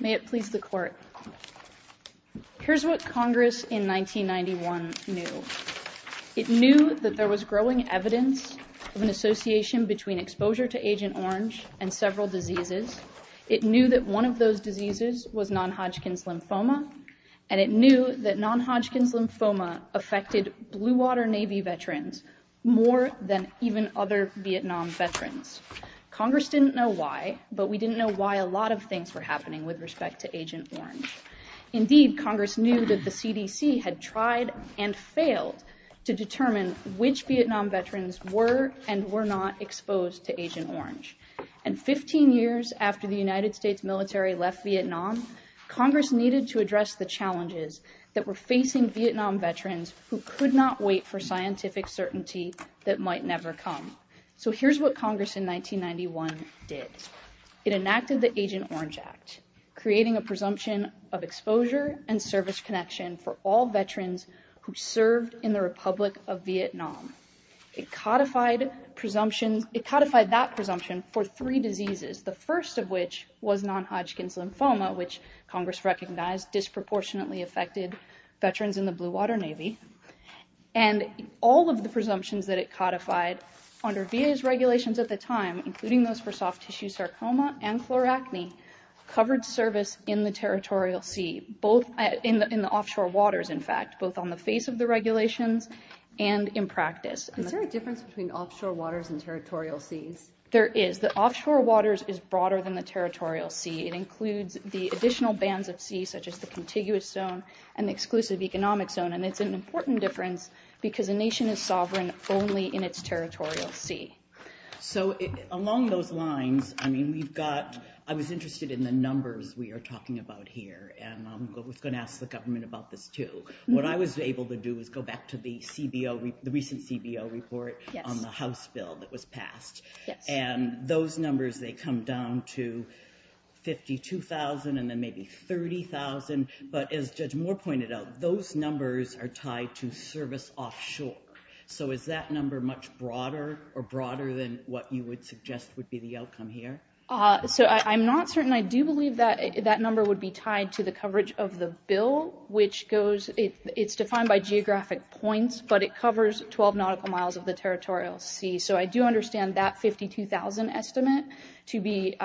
May it please the court. Here's what Congress in 1991 knew. It knew that there was growing evidence of an association between exposure to Agent Orange and several diseases. It knew that one of those diseases was non-Hodgkin's lymphoma, and it knew that non-Hodgkin's lymphoma affected Blue Water Navy veterans more than even other Vietnam veterans. Congress didn't know why, but we didn't know why a lot of things were happening with respect to Agent Orange. Indeed, Congress knew that the CDC had tried and failed to determine which Vietnam veterans were and were not exposed to Agent Orange. And 15 years after the United States military left Vietnam, Congress needed to address the challenges that were facing Vietnam veterans who could not wait for scientific certainty that might never come. So here's what Congress in 1991 did. It enacted the Agent Orange Act, creating a presumption of exposure and service connection for all veterans who served in the Republic of Vietnam. It codified presumptions, it codified that presumption for three diseases, the first of which was non-Hodgkin's lymphoma, which Congress recognized disproportionately affected veterans in the Blue Water Navy. And all of the presumptions that it codified under VA's covered service in the territorial sea, both in the offshore waters, in fact, both on the face of the regulations and in practice. Is there a difference between offshore waters and territorial seas? There is. The offshore waters is broader than the territorial sea. It includes the additional bands of sea, such as the contiguous zone and the exclusive economic zone. And it's an important difference because a nation is sovereign only in its territorial sea. So along those lines, I mean, the numbers we are talking about here, and I was going to ask the government about this too. What I was able to do is go back to the recent CBO report on the House bill that was passed. And those numbers, they come down to 52,000 and then maybe 30,000. But as Judge Moore pointed out, those numbers are tied to service offshore. So is that number much broader or broader than what you would suggest would be the outcome here? So I'm not certain. I do believe that that number would be tied to the coverage of the bill, which goes, it's defined by geographic points, but it covers 12 nautical miles of the territorial sea. So I do understand that 52,000 estimate to be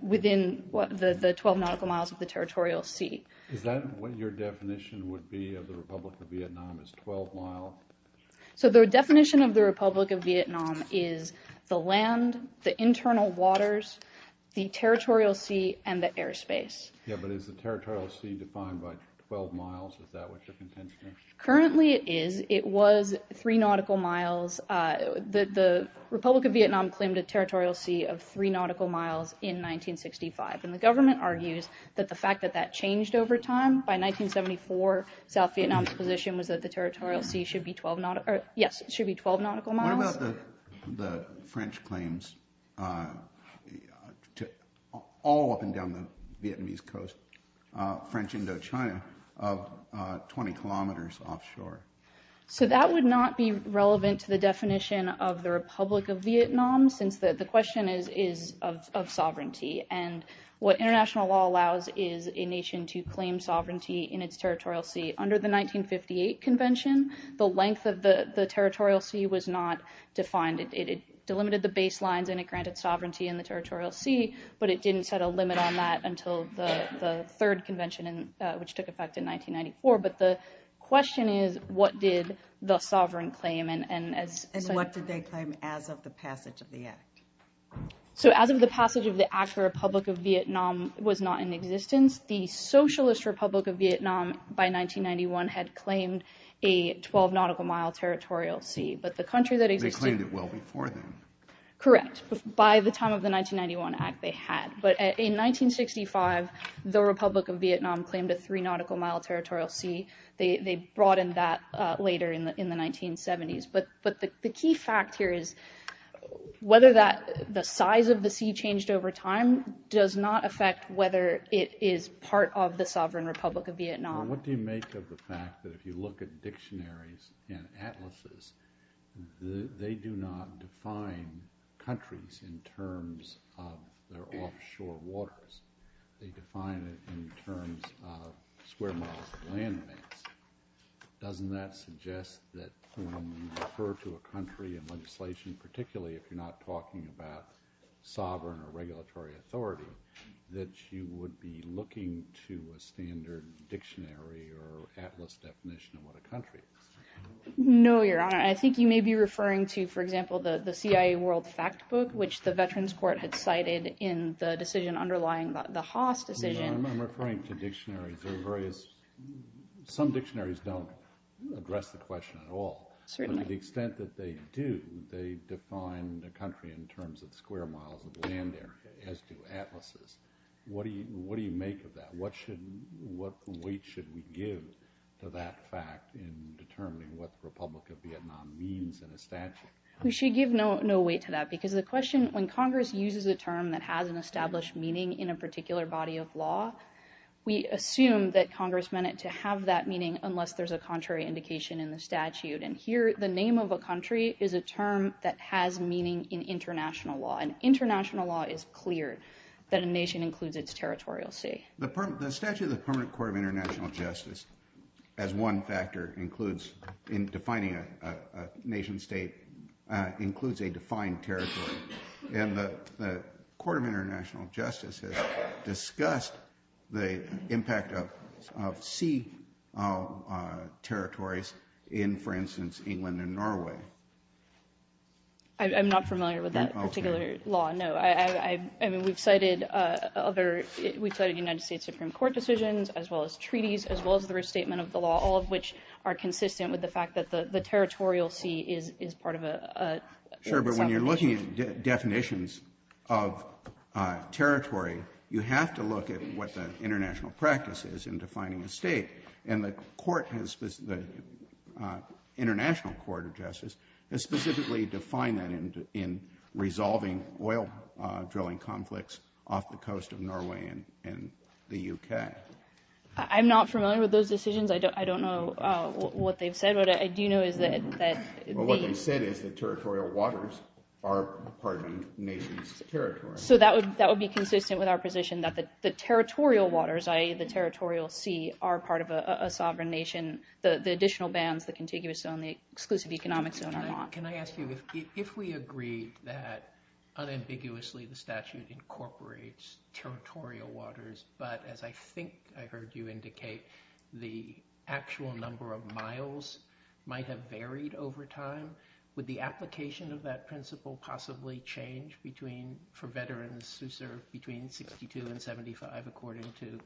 within the 12 nautical miles of the territorial sea. Is that what your definition would be of the Republic of Vietnam, the internal waters, the territorial sea, and the airspace? Yeah, but is the territorial sea defined by 12 miles? Is that what your contention is? Currently it is. It was three nautical miles. The Republic of Vietnam claimed a territorial sea of three nautical miles in 1965. And the government argues that the fact that that changed over time, by 1974, South Vietnam's position was that the territorial sea should be 12 nautical, yes, it should be 12 nautical miles. What about the French claims, all up and down the Vietnamese coast, French Indochina, of 20 kilometers offshore? So that would not be relevant to the definition of the Republic of Vietnam, since the question is of sovereignty. And what international law allows is a nation to claim sovereignty in its territorial sea. Under the 1958 convention, the length of the territorial sea was not defined. It delimited the baselines and it granted sovereignty in the territorial sea, but it didn't set a limit on that until the third convention, which took effect in 1994. But the question is, what did the sovereign claim? And what did they claim as of the passage of the Act? So as of the passage of the Act, the Republic of Vietnam was not in existence. The Socialist Republic of Vietnam, by 1991, had claimed a 12 nautical mile territorial sea, but the country that existed... They claimed it well before then. Correct. By the time of the 1991 Act, they had. But in 1965, the Republic of Vietnam claimed a three nautical mile territorial sea. They broadened that later in the 1970s. But the key fact here is, whether the size of the sea changed over time does not affect whether it is part of the sovereign Republic of Vietnam. What do you make of the fact that if you look at dictionaries and atlases, they do not define countries in terms of their offshore waters. They define it in terms of square miles of landmass. Doesn't that suggest that when you refer to a country in legislation, particularly if you're not talking about sovereign or regulatory authority, that you would be looking to a standard dictionary or atlas definition of what a country is? No, Your Honor. I think you may be referring to, for example, the CIA World Factbook, which the Veterans Court had cited in the decision underlying the Haas decision. I'm referring to dictionaries. Some dictionaries don't address the question at all. But to the extent that they do, they define the country in terms of square miles of land there, as do atlases. What do you make of that? What weight should we give to that fact in determining what the Republic of Vietnam means in a statute? We should give no weight to that because the question, when Congress uses a term that has an established meaning in a particular body of law, we assume that Congress meant it to have that meaning unless there's a contrary indication in the statute. And here, the name of a country is a term that has meaning in international law. And international law is clear that a nation includes its territorial sea. The statute of the Permanent Court of International Justice, as one factor in defining a nation state, includes a defined territory. And the Court of International Justice has discussed the impact of sea territories in, for instance, England and Norway. I'm not familiar with that particular law. No, I mean, we've cited other, we've cited United States Supreme Court decisions, as well as treaties, as well as the restatement of the law, all of which are consistent with the fact that the territorial sea is part of a sovereign territory. Sure, but when you're looking at definitions of territory, you have to look at what the international practice is in defining a state. And the court has, the International Court of Justice, has specifically defined that in resolving oil drilling conflicts off the coast of Norway and the UK. I'm not familiar with those decisions. I don't know what they've said. What I do know is that. What they said is that territorial waters are part of a nation's territory. So that would be consistent with our position that the territorial waters, i.e. the territorial sea, are part of a sovereign nation. The additional bans, the contiguous zone, the exclusive economic zone are not. Can I ask you, if we agree that unambiguously the statute incorporates territorial waters, but as I think I heard you indicate, the actual number of miles might have varied over time. Would the application of that principle possibly change for veterans who served between 62 and 75, according to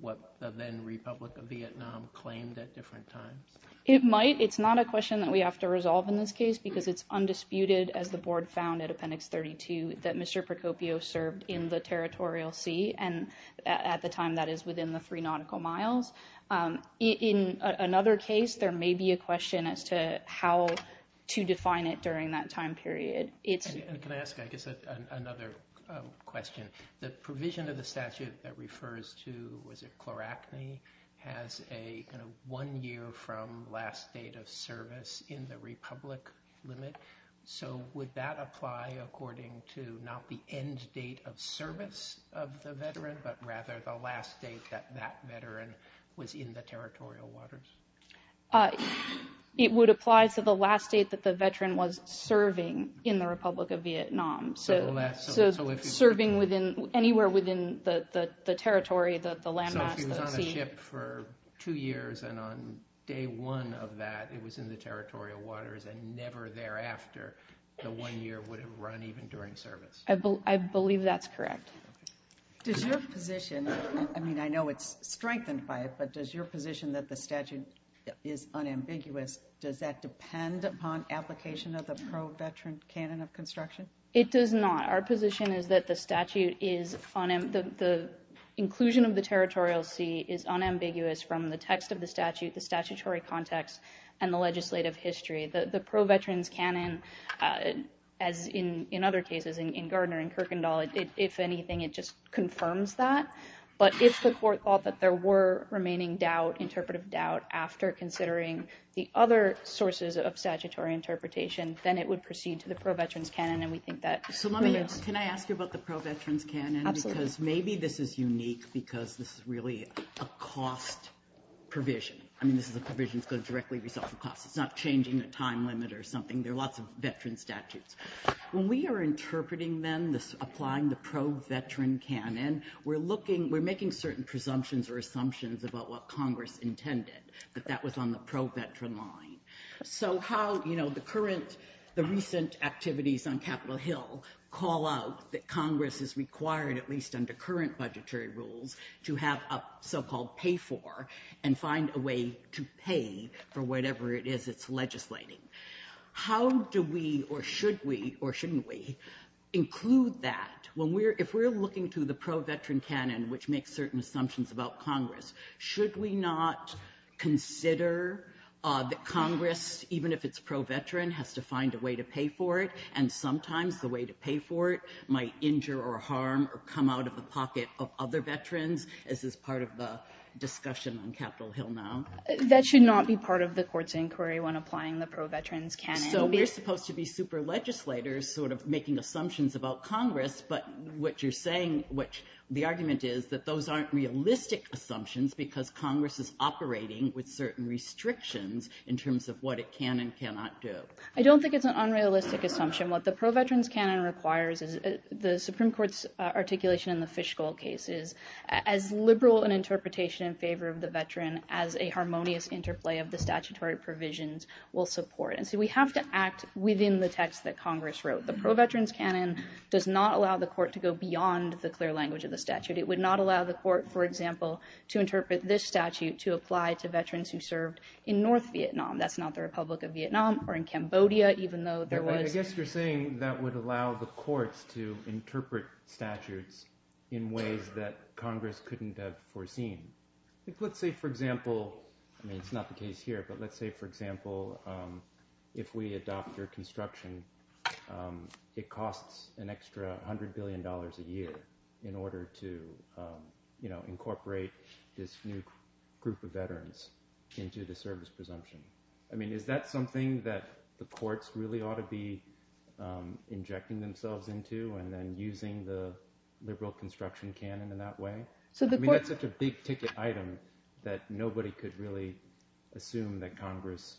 what the then Republic of Vietnam claimed at different times? It might. It's not a question that we have to resolve in this case because it's undisputed, as the board found at Appendix 32, that Mr. Procopio served in the territorial sea, and at the time that is within the three nautical miles. In another case, there may be a question as to how to define it during that time period. And can I ask, I guess, another question. The provision of the statute that refers to, was it chloracne, has a one year from last date of service in the Republic limit. So would that apply according to not the end date of service of the veteran, but rather the last date that that veteran was in the territorial waters? It would apply to the last date that the veteran was serving in the Republic of Vietnam. So serving within, anywhere within the territory, the landmass, the sea. So it was in the ship for two years, and on day one of that, it was in the territorial waters, and never thereafter, the one year would have run even during service. I believe that's correct. Does your position, I mean, I know it's strengthened by it, but does your position that the statute is unambiguous, does that depend upon application of the pro-veteran canon of construction? It does not. Our position is that the statute is, the inclusion of the territorial sea is unambiguous from the text of the statute, the statutory context, and the legislative history. The pro-veterans canon, as in other cases, in Gardner and Kirkendall, if anything, it just confirms that. But if the court thought that there were remaining doubt, interpretive doubt, after considering the other sources of statutory interpretation, then it would proceed to the pro-veterans canon. And we think that. So let me ask, can I ask you about the pro-veterans canon? Absolutely. Because maybe this is unique because this is really a cost provision. I mean, this is a provision that's going to directly result in cost. It's not changing the time limit or something. There are lots of veteran statutes. When we are interpreting them, applying the pro-veteran canon, we're looking, we're making certain presumptions or assumptions about what Congress intended, that that was on the pro-veteran line. So how, you know, the current, the recent activities on Capitol Hill call out that Congress is required, at least under current budgetary rules, to have a so-called pay-for and find a way to pay for whatever it is it's legislating. How do we, or should we, or shouldn't we, include that? When we're, if we're looking to the pro-veteran canon, which makes certain assumptions about Congress, should we not consider that Congress, even if it's pro-veteran, has to find a way to pay for it? And sometimes the way to pay for it might injure or harm or come out of the pocket of other veterans, as is part of the discussion on Capitol Hill now? That should not be part of the court's inquiry when applying the pro-veterans canon. So we're supposed to be super legislators, sort of making assumptions about Congress, but what you're saying, which the argument is that those aren't realistic assumptions because Congress is operating with certain restrictions in terms of what it can and cannot do. I don't think it's an unrealistic assumption. What the pro-veterans canon requires is the Supreme Court's articulation in the Fischl case is as liberal an interpretation in favor of the veteran as a harmonious interplay of the statutory provisions will support. And so we have to act within the text that Congress wrote. The pro-veterans canon does not allow the court to go beyond the clear language of the statute. It would not allow the court, for example, to interpret this statute to apply to veterans who served in North Vietnam. That's not the Republic of Vietnam or in Cambodia, even though there was. I guess you're saying that would allow the courts to interpret statutes in ways that Congress couldn't have foreseen. Let's say, for example, I mean, it's not the case here, but let's say, for example, if we adopt your construction, it costs an extra hundred billion dollars a year in order to incorporate this new group of veterans into the service presumption. I mean, is that something that the courts really ought to be injecting themselves into and then using the liberal construction canon in that way? I mean, that's such a big ticket item that nobody could really assume that Congress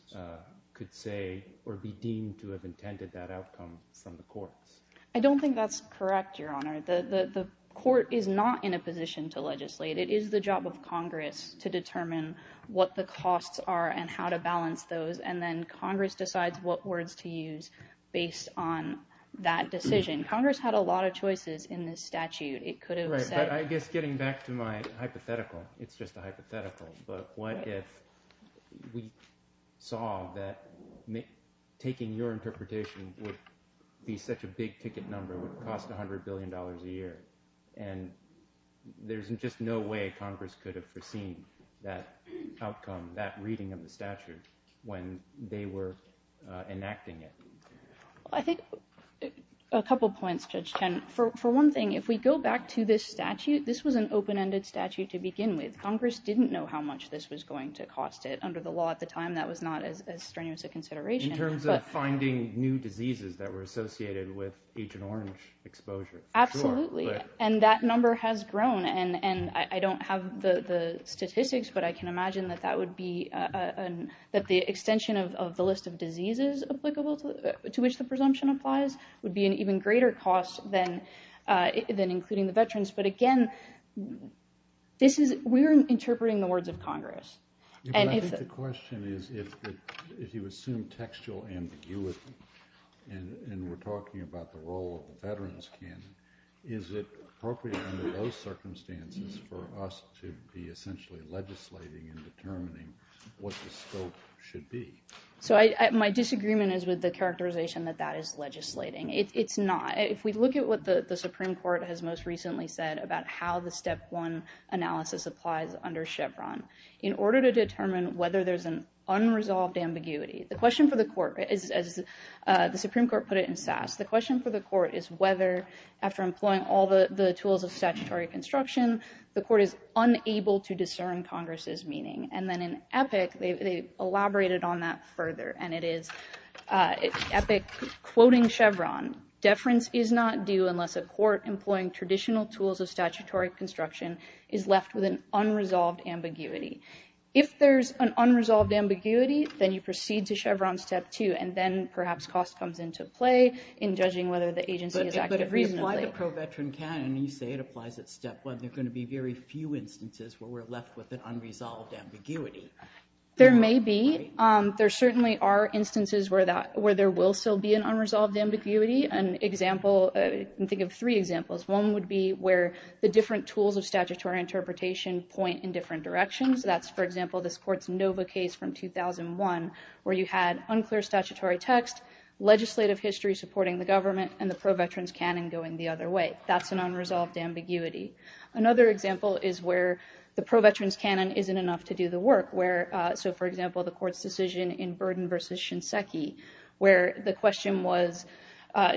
could say or be deemed to have intended that outcome from the courts. I don't think that's correct, Your Honor. The court is not in a position to legislate. It is the job of Congress to determine what the costs are and how to balance those. And then Congress decides what words to use based on that decision. Congress had a lot of choices in this statute. It could have said... Right, but I guess getting back to my hypothetical, it's just a hypothetical, but what if we saw that taking your interpretation would be such a big ticket number, would cost a hundred billion dollars a year? And there's just no way Congress could have foreseen that outcome, that reading of the statute when they were enacting it. I think a couple of points, Judge Chen. For one thing, if we go back to this statute, this was an open-ended statute to begin with. Congress didn't know how much this was going to cost it. Under the law at the time, that was not as strenuous a consideration. In terms of finding new diseases that were associated with Agent Orange exposure. Absolutely. And that number has grown. And I don't have the statistics, but I can imagine that the extension of the list of diseases applicable to which the presumption applies would be an even greater cost than including the veterans. But again, we're interpreting the words of Congress. I think the question is, if you assume textual ambiguity and we're talking about the role of the veterans, Ken, is it appropriate under those circumstances for us to be essentially legislating and determining what the scope should be? So my disagreement is with the characterization that that is legislating. It's not. If we look at what the Supreme Court has most recently said about how the step one analysis applies under Chevron. In order to determine whether there's an unresolved ambiguity, the question for the court is, as the Supreme Court put it in Sass, the question for the court is whether after employing all the tools of statutory construction, the court is unable to discern Congress's meaning. And then in Epic, they elaborated on that further. And it is, at the quoting Chevron, deference is not due unless a court employing traditional tools of statutory construction is left with an unresolved ambiguity. If there's an unresolved ambiguity, then you proceed to Chevron step two. And then perhaps cost comes into play in judging whether the agency is active reasonably. But if we apply the pro-veteran canon and you say it applies at step one, there's going to be very few instances where we're left with an unresolved ambiguity. There may be. There certainly are instances where there will still be an unresolved ambiguity. An example, think of three examples. One would be where the different tools of statutory interpretation point in different directions. That's, for example, this court's Nova case from 2001, where you had unclear statutory text, legislative history supporting the government, and the pro-veterans canon going the other way. That's an unresolved ambiguity. Another example is where the pro-veterans canon isn't enough to do the work. So, for example, the court's decision in Burden versus Shinseki, where the question was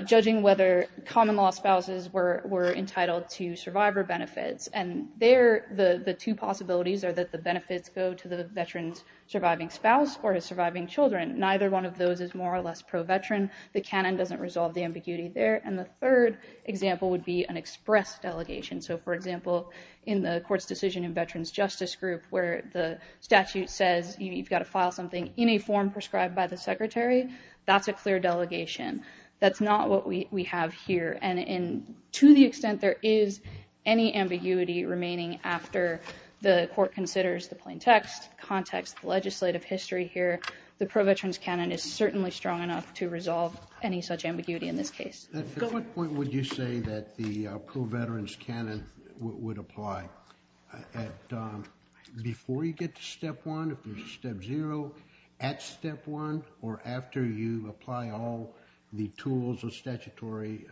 judging whether common law spouses were entitled to survivor benefits. And there, the two possibilities are that the benefits go to the veteran's surviving spouse or his surviving children. Neither one of those is more or less pro-veteran. The canon doesn't resolve the ambiguity there. And the third example would be an express delegation. So, for example, in the court's decision in Veterans Justice Group, where the statute says you've got to file something in a form prescribed by the secretary, that's a clear delegation. That's not what we have here. And to the extent there is any ambiguity remaining after the court considers the plain text, context, legislative history here, the pro-veterans canon is certainly strong enough to resolve any such ambiguity in this case. At what point would you say that the pro-veterans canon would apply? Before you get to step one, step zero, at step one, or after you apply all the tools of statutory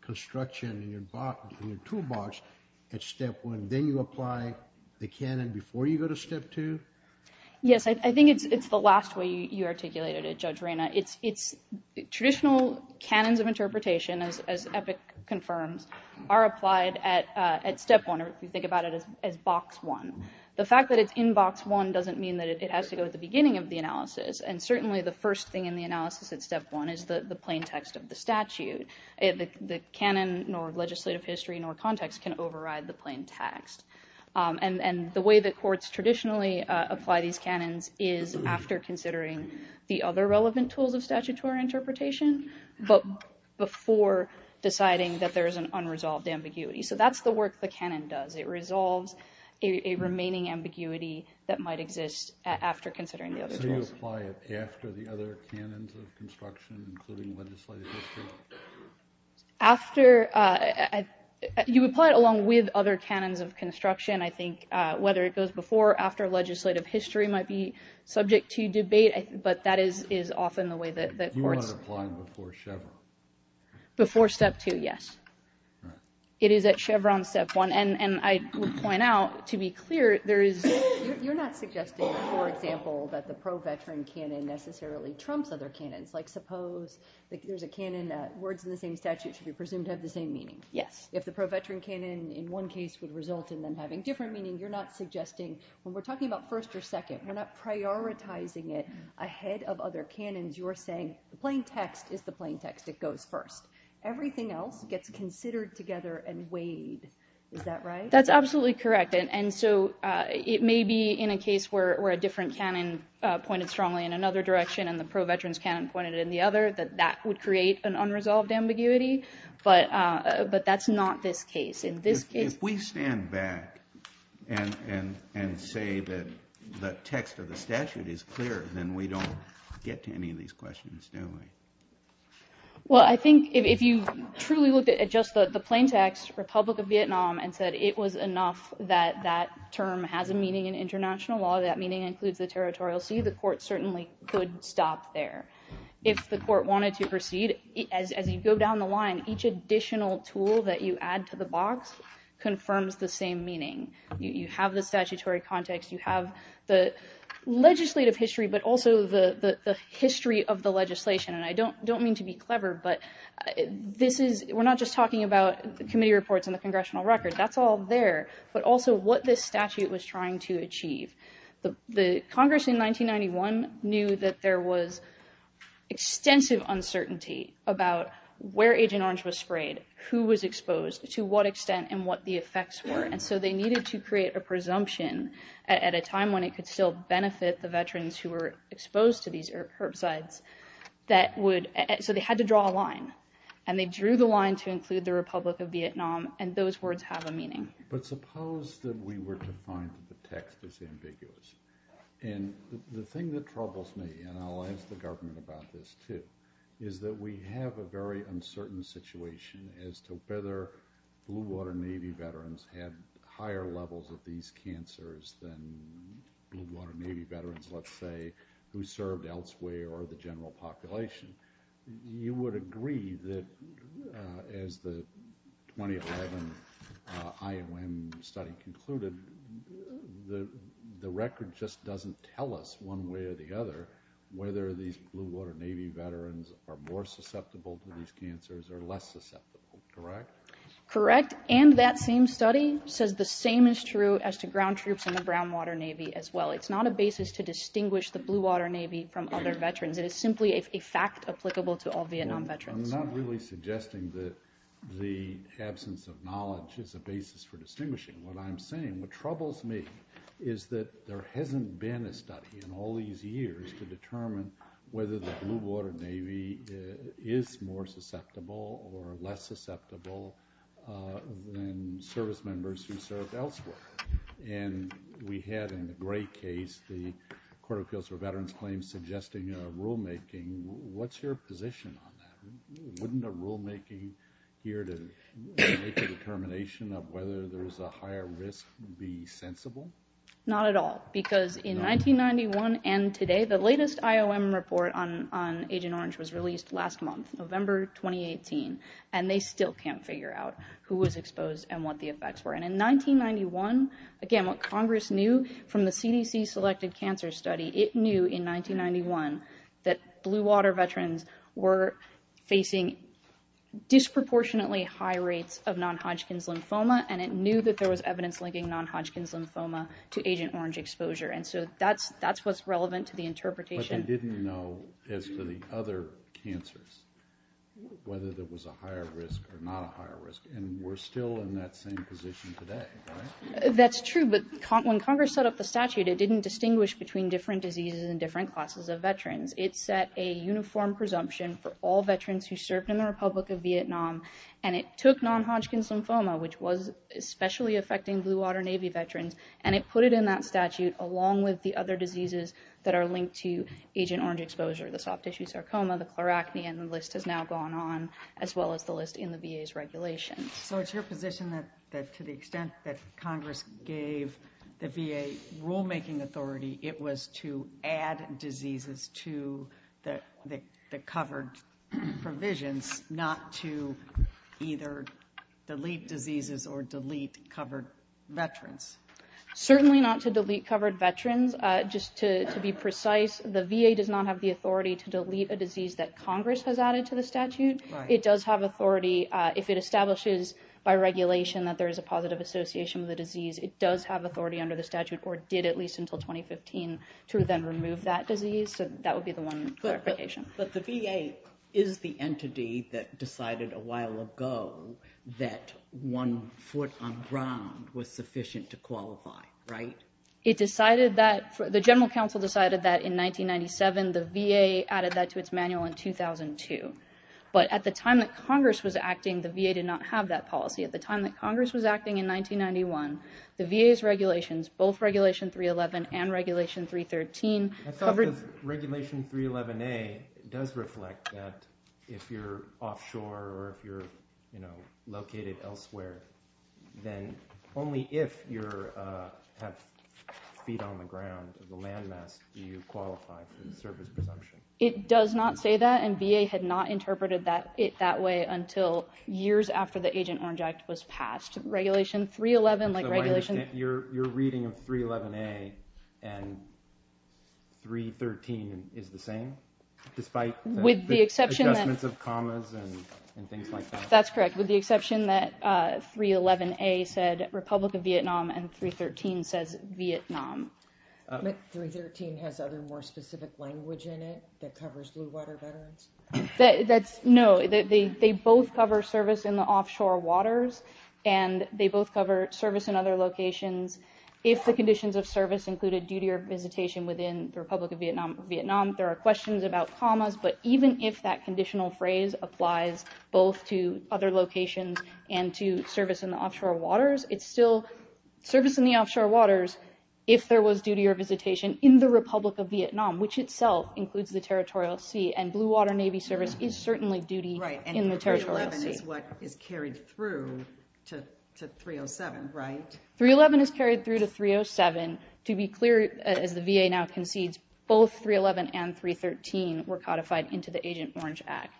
construction in your toolbox at step one, then you apply the canon before you go to step two? Yes, I think it's the last way you articulated it, Judge Reyna. It's traditional canons of interpretation, as Epic confirms, are applied at step one, if you think about it as box one. The fact that it's in box one doesn't mean that it has to go at the beginning of the analysis. And certainly the first thing in the analysis at step one is the plain text of the statute. The canon nor legislative history nor context can override the plain text. And the way that courts traditionally apply these canons is after considering the other relevant tools of statutory interpretation, but before deciding that there is an unresolved ambiguity. So that's the work the canon does. It resolves a remaining ambiguity that might exist after considering the other tools. So you apply it after the other canons of construction, including legislative history? After, you apply it along with other canons of construction, I think, whether it goes before or after legislative history might be subject to debate, but that is often the way that courts... You want to apply it before Chevron? Before step two, yes. It is at Chevron step one, and I would point out, to be clear, there is... You're not suggesting, for example, that the pro-veteran canon necessarily trumps other canons. Like suppose there's a canon that words in the same statute should be presumed to have the same meaning. Yes. If the pro-veteran canon in one case would result in them having different meaning, you're not suggesting, when we're talking about first or second, we're not prioritizing it ahead of other canons. You're saying the plain text is the plain text. It goes first. Everything else gets considered together and weighed. Is that right? That's absolutely correct. It may be, in a case where a different canon pointed strongly in another direction and the pro-veteran canon pointed in the other, that that would create an unresolved ambiguity, but that's not this case. If we stand back and say that the text of the statute is clear, then we don't get to any of these questions, do we? Well, I think if you truly looked at just the plain text, Republic of Vietnam, and said it was enough that that term has a meaning in international law, that meaning includes the territorial sea, the court certainly could stop there. If the court wanted to proceed, as you go down the line, each additional tool that you add to the box confirms the same meaning. You have the statutory context, you have the legislative history, but also the history of the legislation. And I don't mean to be clever, but we're not just talking about the committee reports and the congressional record. That's all there, but also what this statute was trying to achieve. The Congress in 1991 knew that there was extensive uncertainty about where Agent Orange was sprayed, who was exposed, to what extent, and what the effects were. And so they needed to create a presumption at a time when it could still benefit the veterans who were exposed to these herbicides. So they had to draw a line, and they drew the line to include the Republic of Vietnam, and those words have a meaning. But suppose that we were to find that the text is ambiguous. And the thing that troubles me, and I'll ask the government about this too, is that we have a very uncertain situation as to whether Blue Water Navy veterans had higher levels of these cancers than Blue Water Navy veterans, let's say, who served elsewhere or the general population. You would agree that, as the 2011 IOM study concluded, the record just doesn't tell us one way or the other whether these Blue Water Navy veterans are more susceptible to these cancers or less susceptible, correct? Correct, and that same study says the same is true as to ground troops in the Brown Water Navy as well. It's not a basis to distinguish the Blue Water Navy from other veterans. It is simply a fact applicable to all Vietnam veterans. Well, I'm not really suggesting that the absence of knowledge is a basis for distinguishing. What I'm saying, what troubles me is that there hasn't been a study in all these years to determine whether the Blue Water Navy is more susceptible or less susceptible than service members who served elsewhere. And we had, in the Gray case, the Court of Appeals for Veterans Claims suggesting a rulemaking. What's your position on that? Wouldn't a rulemaking here to make a determination of whether there's a higher risk be sensible? Not at all, because in 1991 and today, the latest IOM report on Agent Orange was released last month, November 2018, and they still can't figure out who was exposed and what the effects were. And in 1991, again, what Congress knew from the CDC-selected cancer study, it knew in 1991 that Blue Water veterans were facing disproportionately high rates of non-Hodgkin's lymphoma, and it knew that there was evidence linking non-Hodgkin's lymphoma to Agent Orange exposure, and so that's what's relevant to the interpretation. But they didn't know, as to the other cancers, whether there was a higher risk or not a higher risk, and we're still in that same position today, right? That's true, but when Congress set up the statute, it didn't distinguish between different diseases and different classes of veterans. It set a uniform presumption for all veterans who served in the Republic of Vietnam, and it took non-Hodgkin's lymphoma, which was especially affecting Blue Water Navy veterans, and it put it in that statute along with the other diseases that are linked to Agent Orange exposure. The soft tissue sarcoma, the chloracne, and the list has now gone on, as well as the list in the VA's regulations. So it's your position that to the extent that Congress gave the VA rulemaking authority, it was to add diseases to the covered provisions, not to either delete diseases or delete covered veterans? Certainly not to delete covered veterans. Just to be precise, the VA does not have the authority to delete a disease that Congress has added to the statute. If it establishes by regulation that there is a positive association with a disease, it does have authority under the statute, or did at least until 2015, to then remove that disease. So that would be the one clarification. But the VA is the entity that decided a while ago that one foot on ground was sufficient to qualify, right? The General Counsel decided that in 1997, the VA added that to its manual in 2002. But at the time that Congress was acting, the VA did not have that policy. At the time that Congress was acting in 1991, the VA's regulations, both Regulation 311 and Regulation 313... But even with Regulation 311A, it does reflect that if you're offshore or if you're located elsewhere, then only if you have feet on the ground, the landmass, do you qualify for the service presumption. It does not say that, and VA had not interpreted it that way until years after the Agent Orange Act was passed. Your reading of 311A and 313 is the same, despite the adjustments of commas and things like that? That's correct, with the exception that 311A said Republic of Vietnam and 313 says Vietnam. But 313 has other more specific language in it that covers blue water veterans? No, they both cover service in the offshore waters, and they both cover service in other locations. If the conditions of service included duty or visitation within the Republic of Vietnam, there are questions about commas. But even if that conditional phrase applies both to other locations and to service in the offshore waters, it's still service in the offshore waters. If there was duty or visitation in the Republic of Vietnam, which itself includes the territorial sea, and blue water Navy service is certainly duty in the territorial sea. 311 is what is carried through to 307, right? 311 is carried through to 307. To be clear, as the VA now concedes, both 311 and 313 were codified into the Agent Orange Act.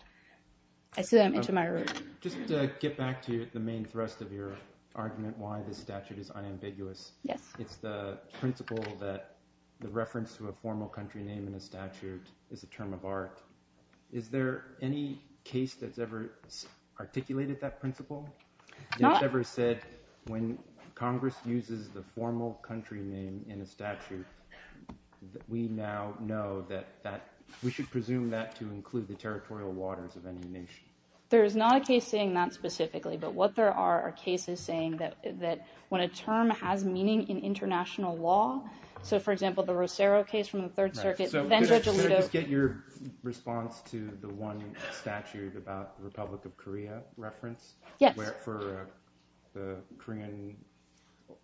Just to get back to the main thrust of your argument why the statute is unambiguous. It's the principle that the reference to a formal country name in a statute is a term of art. Is there any case that's ever articulated that principle? When Congress uses the formal country name in a statute, we now know that we should presume that to include the territorial waters of any nation. There is not a case saying that specifically, but what there are are cases saying that when a term has meaning in international law. So, for example, the Rosero case from the Third Circuit. Could I just get your response to the one statute about the Republic of Korea reference? Yes. For the Korean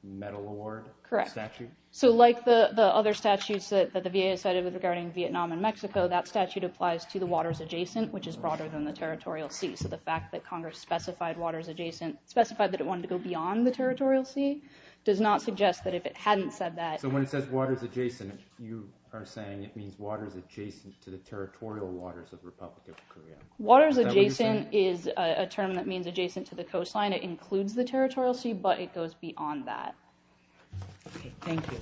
medal award statute? Correct. So, like the other statutes that the VA sided with regarding Vietnam and Mexico, that statute applies to the waters adjacent, which is broader than the territorial sea. So, the fact that Congress specified waters adjacent, specified that it wanted to go beyond the territorial sea, does not suggest that if it hadn't said that. So, when it says waters adjacent, you are saying it means waters adjacent to the territorial waters of the Republic of Korea. Waters adjacent is a term that means adjacent to the coastline. It includes the territorial sea, but it goes beyond that. Thank you.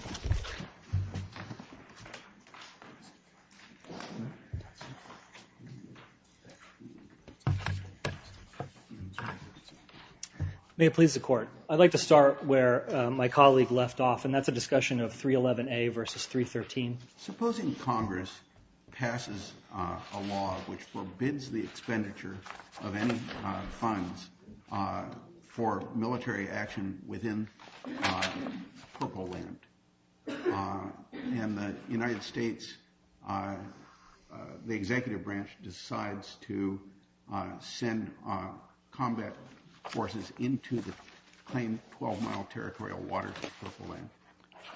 May it please the court. I'd like to start where my colleague left off, and that's a discussion of 311A versus 313. Supposing Congress passes a law which forbids the expenditure of any funds for military action within purple land, and the United States, the executive branch decides to send combat forces into the claimed 12-mile territorial waters of purple land.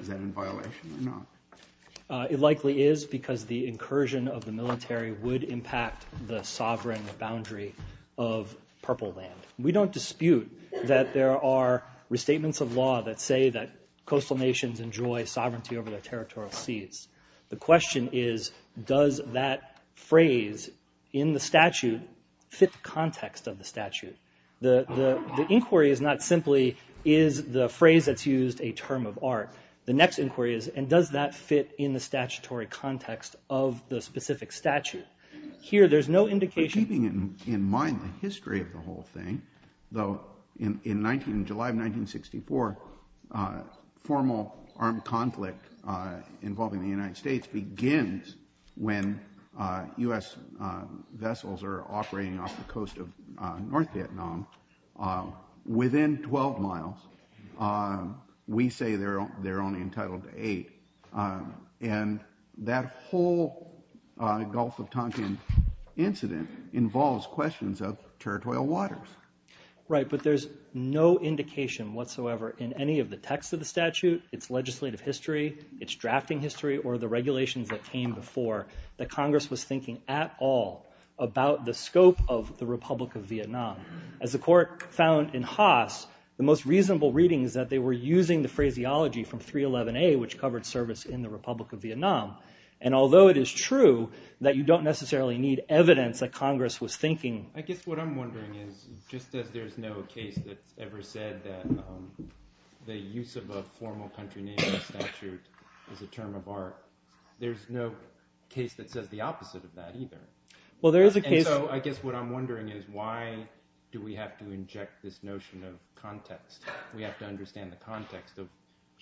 Is that in violation or not? It likely is because the incursion of the military would impact the sovereign boundary of purple land. We don't dispute that there are restatements of law that say that coastal nations enjoy sovereignty over their territorial seas. The question is, does that phrase in the statute fit the context of the statute? The inquiry is not simply, is the phrase that's used a term of art? The next inquiry is, and does that fit in the statutory context of the specific statute? Keeping in mind the history of the whole thing, though, in July of 1964, formal armed conflict involving the United States begins when U.S. vessels are operating off the coast of North Vietnam. Within 12 miles, we say they're only entitled to eight. And that whole Gulf of Tonkin incident involves questions of territorial waters. Right, but there's no indication whatsoever in any of the text of the statute, its legislative history, its drafting history, or the regulations that came before, that Congress was thinking at all about the scope of the Republic of Vietnam. As the court found in Haas, the most reasonable reading is that they were using the phraseology from 311A, which covered service in the Republic of Vietnam. And although it is true that you don't necessarily need evidence that Congress was thinking... I guess what I'm wondering is, just as there's no case that's ever said that the use of a formal country name in a statute is a term of art, there's no case that says the opposite of that either. And so I guess what I'm wondering is, why do we have to inject this notion of context? We have to understand the context of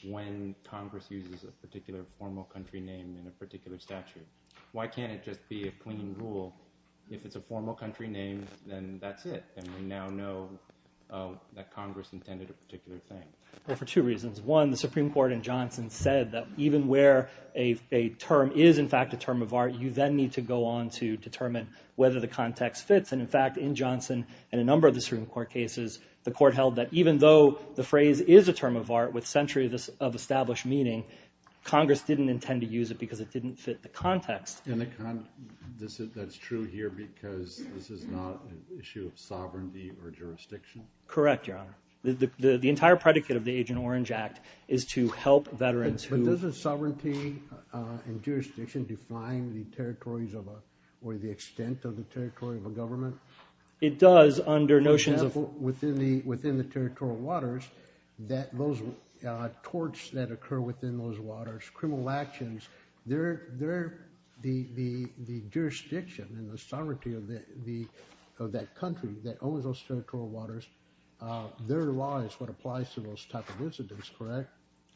when Congress uses a particular formal country name in a particular statute. Why can't it just be a clean rule? If it's a formal country name, then that's it. And we now know that Congress intended a particular thing. Well, for two reasons. One, the Supreme Court in Johnson said that even where a term is in fact a term of art, you then need to go on to determine whether the context fits. And in fact, in Johnson and a number of the Supreme Court cases, the court held that even though the phrase is a term of art with centuries of established meaning, Congress didn't intend to use it because it didn't fit the context. And that's true here because this is not an issue of sovereignty or jurisdiction? Correct, Your Honor. The entire predicate of the Agent Orange Act is to help veterans who... Does sovereignty and jurisdiction define the territories or the extent of the territory of a government? It does under notions of... For example, within the territorial waters, those torts that occur within those waters, criminal actions, the jurisdiction and the sovereignty of that country that owns those territorial waters, their law is what applies to those type of incidents, correct?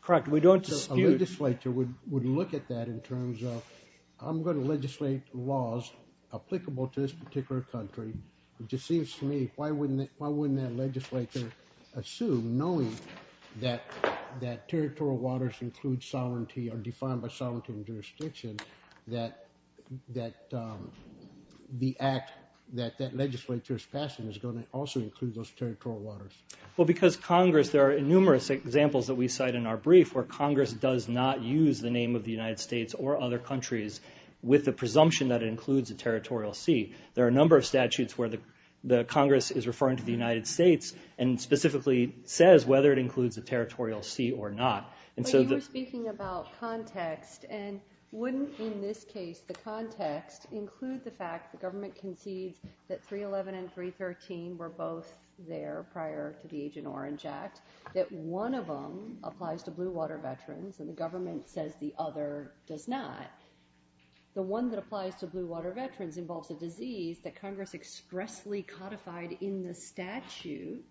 Correct. We don't dispute... A legislature would look at that in terms of, I'm going to legislate laws applicable to this particular country. It just seems to me, why wouldn't that legislature assume, knowing that territorial waters include sovereignty or defined by sovereignty and jurisdiction, that the act that that legislature is passing is going to also include those territorial waters? Well, because Congress... There are numerous examples that we cite in our brief where Congress does not use the name of the United States or other countries with the presumption that it includes a territorial sea. There are a number of statutes where the Congress is referring to the United States and specifically says whether it includes a territorial sea or not. But you were speaking about context. And wouldn't, in this case, the context include the fact the government concedes that 311 and 313 were both there prior to the Agent Orange Act, that one of them applies to blue water veterans and the government says the other does not. The one that applies to blue water veterans involves a disease that Congress expressly codified in the statute.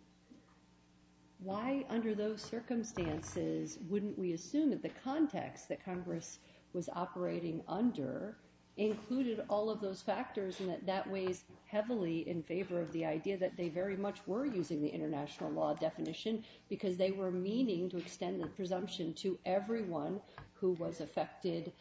Why, under those circumstances, wouldn't we assume that the context that Congress was operating under included all of those factors and that that weighs heavily in favor of the idea that they very much were using the international law definition because they were meaning to extend the presumption to everyone who was affected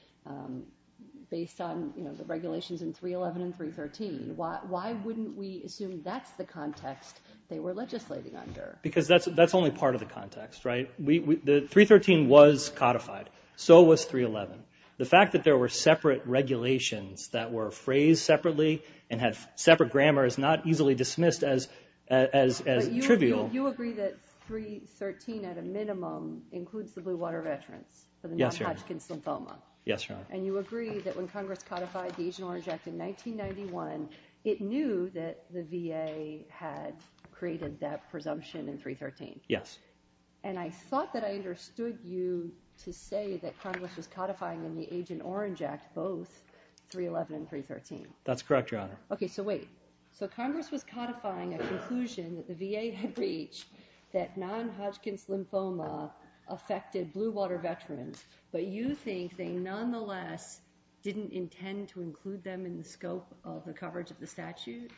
based on the regulations in 311 and 313? Why wouldn't we assume that's the context they were legislating under? Because that's only part of the context, right? 313 was codified. So was 311. The fact that there were separate regulations that were phrased separately and had separate grammar is not easily dismissed as trivial. But you agree that 313 at a minimum includes the blue water veterans for the non-Hodgkin's lymphoma. Yes, Your Honor. And you agree that when Congress codified the Agent Orange Act in 1991, it knew that the VA had created that presumption in 313. Yes. And I thought that I understood you to say that Congress was codifying in the Agent Orange Act both 311 and 313. That's correct, Your Honor. Okay, so wait. So Congress was codifying a conclusion that the VA had reached that non-Hodgkin's lymphoma affected blue water veterans, but you think they nonetheless didn't intend to include them in the scope of the coverage of the statute?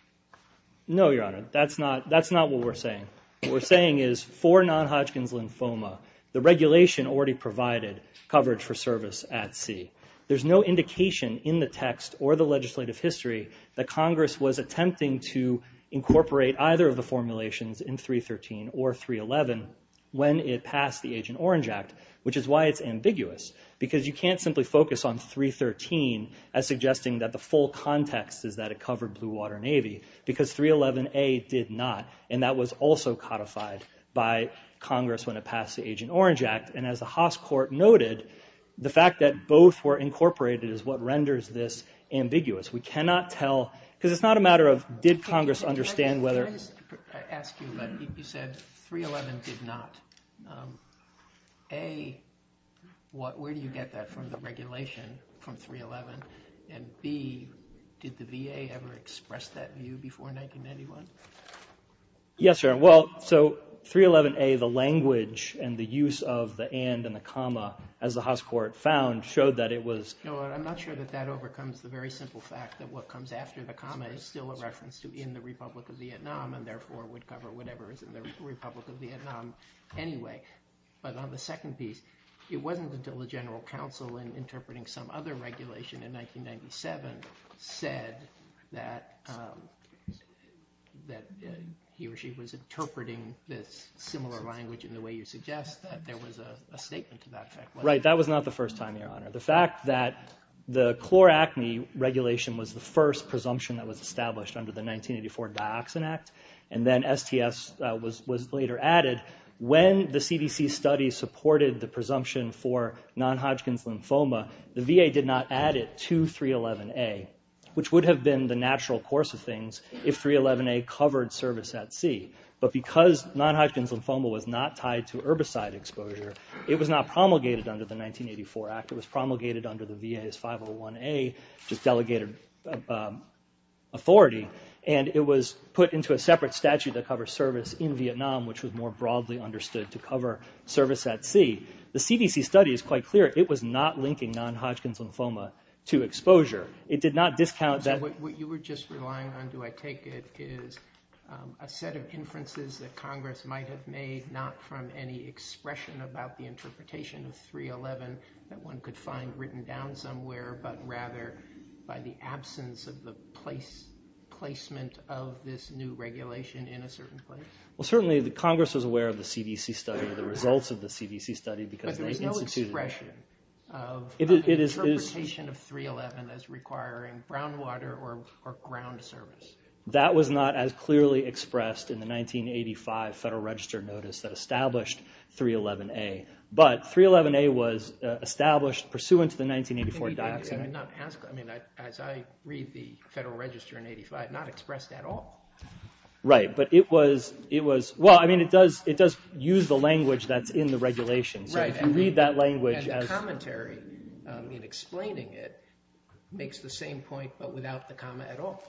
No, Your Honor. That's not what we're saying. What we're saying is for non-Hodgkin's lymphoma, the regulation already provided coverage for service at sea. There's no indication in the text or the legislative history that Congress was attempting to incorporate either of the formulations in 313 or 311 when it passed the Agent Orange Act, which is why it's ambiguous because you can't simply focus on 313 as suggesting that the full context is that it covered Blue Water Navy because 311A did not, and that was also codified by Congress when it passed the Agent Orange Act. And as the Haas court noted, the fact that both were incorporated is what renders this ambiguous. We cannot tell because it's not a matter of did Congress understand whether – I asked you, but you said 311 did not. A, where do you get that from, the regulation from 311? And B, did the VA ever express that view before 1991? Yes, Your Honor. Well, so 311A, the language and the use of the and and the comma, as the Haas court found, showed that it was – No, I'm not sure that that overcomes the very simple fact that what comes after the comma is still a reference to in the Republic of Vietnam and therefore would cover whatever is in the Republic of Vietnam anyway. But on the second piece, it wasn't until the General Counsel, in interpreting some other regulation in 1997, said that he or she was interpreting this similar language in the way you suggest that there was a statement to that effect. Right, that was not the first time, Your Honor. The fact that the chloracne regulation was the first presumption that was established under the 1984 Dioxin Act, and then STS was later added, when the CDC study supported the presumption for non-Hodgkin's lymphoma, the VA did not add it to 311A, which would have been the natural course of things if 311A covered service at sea. But because non-Hodgkin's lymphoma was not tied to herbicide exposure, it was not promulgated under the 1984 Act. It was promulgated under the VA's 501A, which is delegated authority. And it was put into a separate statute that covers service in Vietnam, which was more broadly understood to cover service at sea. The CDC study is quite clear. It was not linking non-Hodgkin's lymphoma to exposure. It did not discount that— So what you were just relying on, do I take it, is a set of inferences that Congress might have made, not from any expression about the interpretation of 311 that one could find written down somewhere, but rather by the absence of the placement of this new regulation in a certain place? Well, certainly Congress was aware of the CDC study, the results of the CDC study, because they instituted it. But there was no expression of the interpretation of 311 as requiring brown water or ground service. That was not as clearly expressed in the 1985 Federal Register notice that established 311A. But 311A was established pursuant to the 1984 dioxin. I mean, as I read the Federal Register in 1985, not expressed at all. Right, but it was—well, I mean, it does use the language that's in the regulation. So if you read that language as— And the commentary in explaining it makes the same point, but without the comma at all.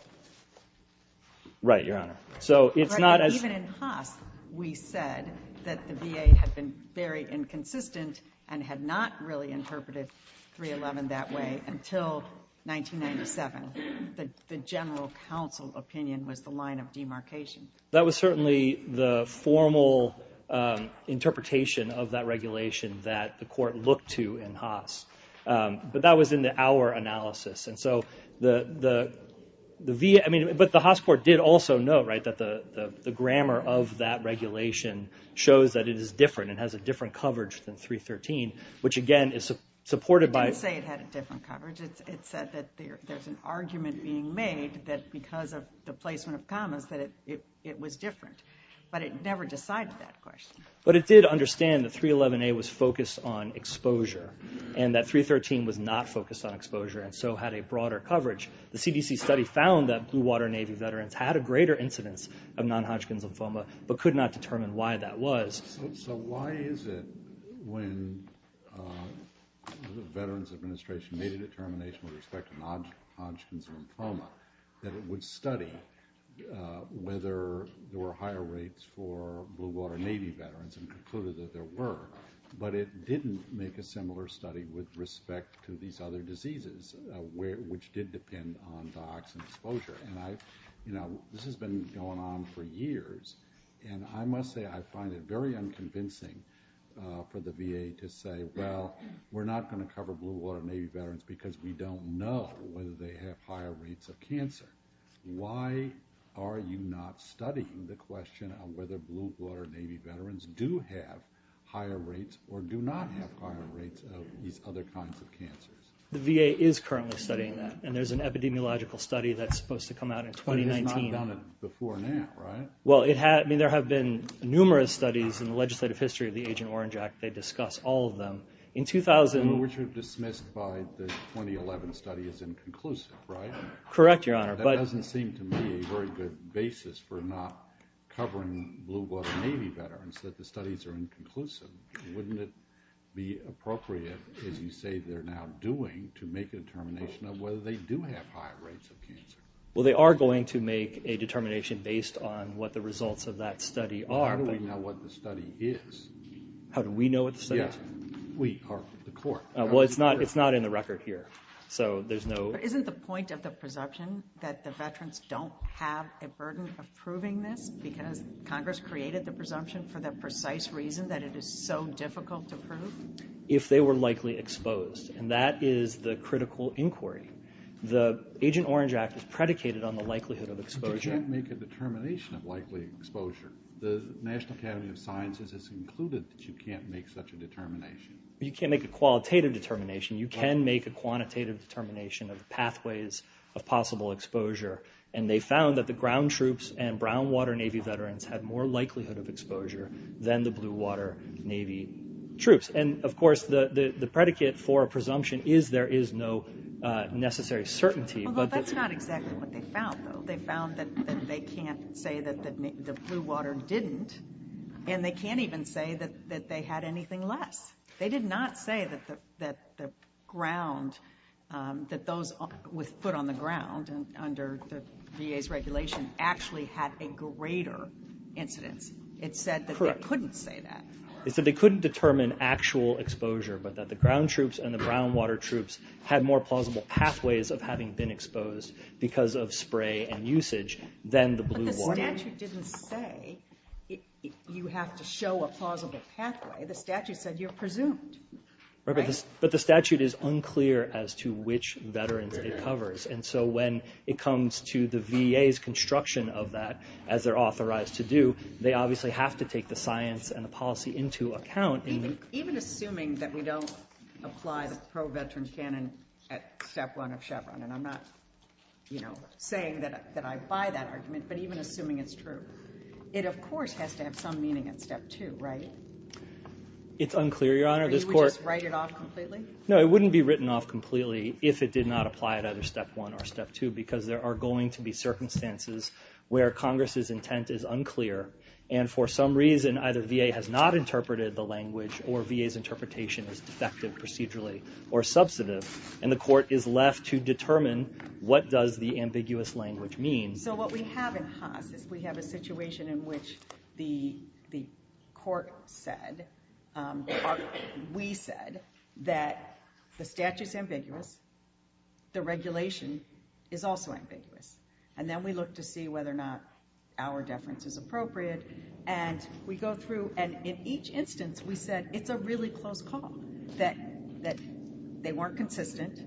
Right, Your Honor. So it's not as— Even in Haas, we said that the VA had been very inconsistent and had not really interpreted 311 that way until 1997. The general counsel opinion was the line of demarcation. That was certainly the formal interpretation of that regulation that the court looked to in Haas. But that was in our analysis. And so the VA—I mean, but the Haas court did also note that the grammar of that regulation shows that it is different and has a different coverage than 313, which again is supported by— It didn't say it had a different coverage. It said that there's an argument being made that because of the placement of commas that it was different. But it never decided that question. But it did understand that 311A was focused on exposure and that 313 was not focused on exposure and so had a broader coverage. The CDC study found that Blue Water Navy veterans had a greater incidence of non-Hodgkin's lymphoma but could not determine why that was. So why is it when the Veterans Administration made a determination with respect to non-Hodgkin's lymphoma that it would study whether there were higher rates for Blue Water Navy veterans and concluded that there were, but it didn't make a similar study with respect to these other diseases which did depend on dioxin exposure. And this has been going on for years. And I must say I find it very unconvincing for the VA to say, well, we're not going to cover Blue Water Navy veterans because we don't know whether they have higher rates of cancer. Why are you not studying the question of whether Blue Water Navy veterans do have higher rates or do not have higher rates of these other kinds of cancers? The VA is currently studying that. And there's an epidemiological study that's supposed to come out in 2019. But it has not done it before now, right? Well, there have been numerous studies in the legislative history of the Agent Orange Act. They discuss all of them. Which were dismissed by the 2011 study as inconclusive, right? Correct, Your Honor. That doesn't seem to me a very good basis for not covering Blue Water Navy veterans, that the studies are inconclusive. Wouldn't it be appropriate, as you say they're now doing, to make a determination of whether they do have higher rates of cancer? Well, they are going to make a determination based on what the results of that study are. But how do we know what the study is? How do we know what the study is? Yeah, we are the court. Well, it's not in the record here. Isn't the point of the presumption that the veterans don't have a burden of proving this because Congress created the presumption for the precise reason that it is so difficult to prove? If they were likely exposed. And that is the critical inquiry. The Agent Orange Act is predicated on the likelihood of exposure. But you can't make a determination of likely exposure. The National Academy of Sciences has concluded that you can't make such a determination. You can't make a qualitative determination. You can make a quantitative determination of pathways of possible exposure. And they found that the ground troops and brown water Navy veterans had more likelihood of exposure than the blue water Navy troops. And, of course, the predicate for a presumption is there is no necessary certainty. Well, that's not exactly what they found, though. They found that they can't say that the blue water didn't. And they can't even say that they had anything less. They did not say that the ground, that those with foot on the ground under the VA's regulation, actually had a greater incidence. It said that they couldn't say that. Correct. It said they couldn't determine actual exposure, but that the ground troops and the brown water troops had more plausible pathways of having been exposed because of spray and usage than the blue water. But the statute didn't say you have to show a plausible pathway. The statute said you're presumed. But the statute is unclear as to which veterans it covers. And so when it comes to the VA's construction of that, as they're authorized to do, they obviously have to take the science and the policy into account. Even assuming that we don't apply the pro-veteran canon at step one of Chevron, and I'm not saying that I buy that argument, but even assuming it's true, it, of course, has to have some meaning at step two, right? It's unclear, Your Honor. You would just write it off completely? No, it wouldn't be written off completely if it did not apply at either step one or step two because there are going to be circumstances where Congress's intent is unclear, and for some reason either VA has not interpreted the language or VA's interpretation is defective procedurally or substantive, and the court is left to determine what does the ambiguous language mean. So what we have in Haas is we have a situation in which the court said or we said that the statute's ambiguous, the regulation is also ambiguous, and then we look to see whether or not our deference is appropriate, and we go through and in each instance we said it's a really close call, that they weren't consistent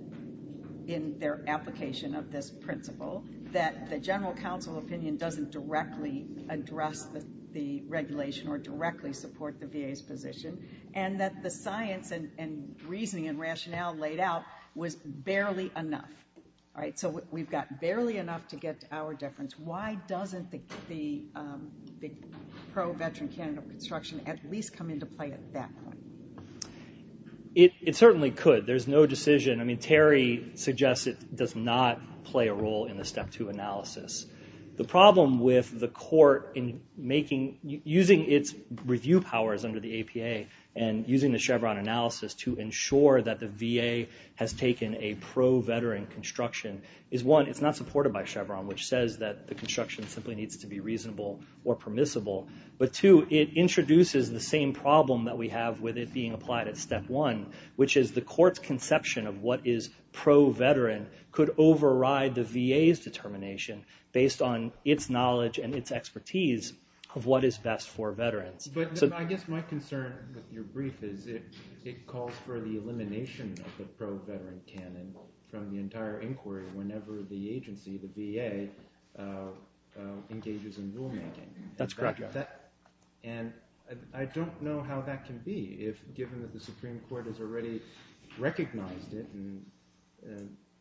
in their application of this principle, that the general counsel opinion doesn't directly address the regulation or directly support the VA's position, and that the science and reasoning and rationale laid out was barely enough. So we've got barely enough to get to our deference. Why doesn't the pro-veteran canon of construction at least come into play at that point? It certainly could. There's no decision. I mean, Terry suggests it does not play a role in the Step 2 analysis. The problem with the court using its review powers under the APA and using the Chevron analysis to ensure that the VA has taken a pro-veteran construction is one, it's not supported by Chevron, which says that the construction simply needs to be reasonable or permissible, but two, it introduces the same problem that we have with it being applied at Step 1, which is the court's conception of what is pro-veteran could override the VA's determination based on its knowledge and its expertise of what is best for veterans. But I guess my concern with your brief is it calls for the elimination of the pro-veteran canon from the entire inquiry whenever the agency, the VA, engages in rulemaking. That's correct. And I don't know how that can be, given that the Supreme Court has already recognized it and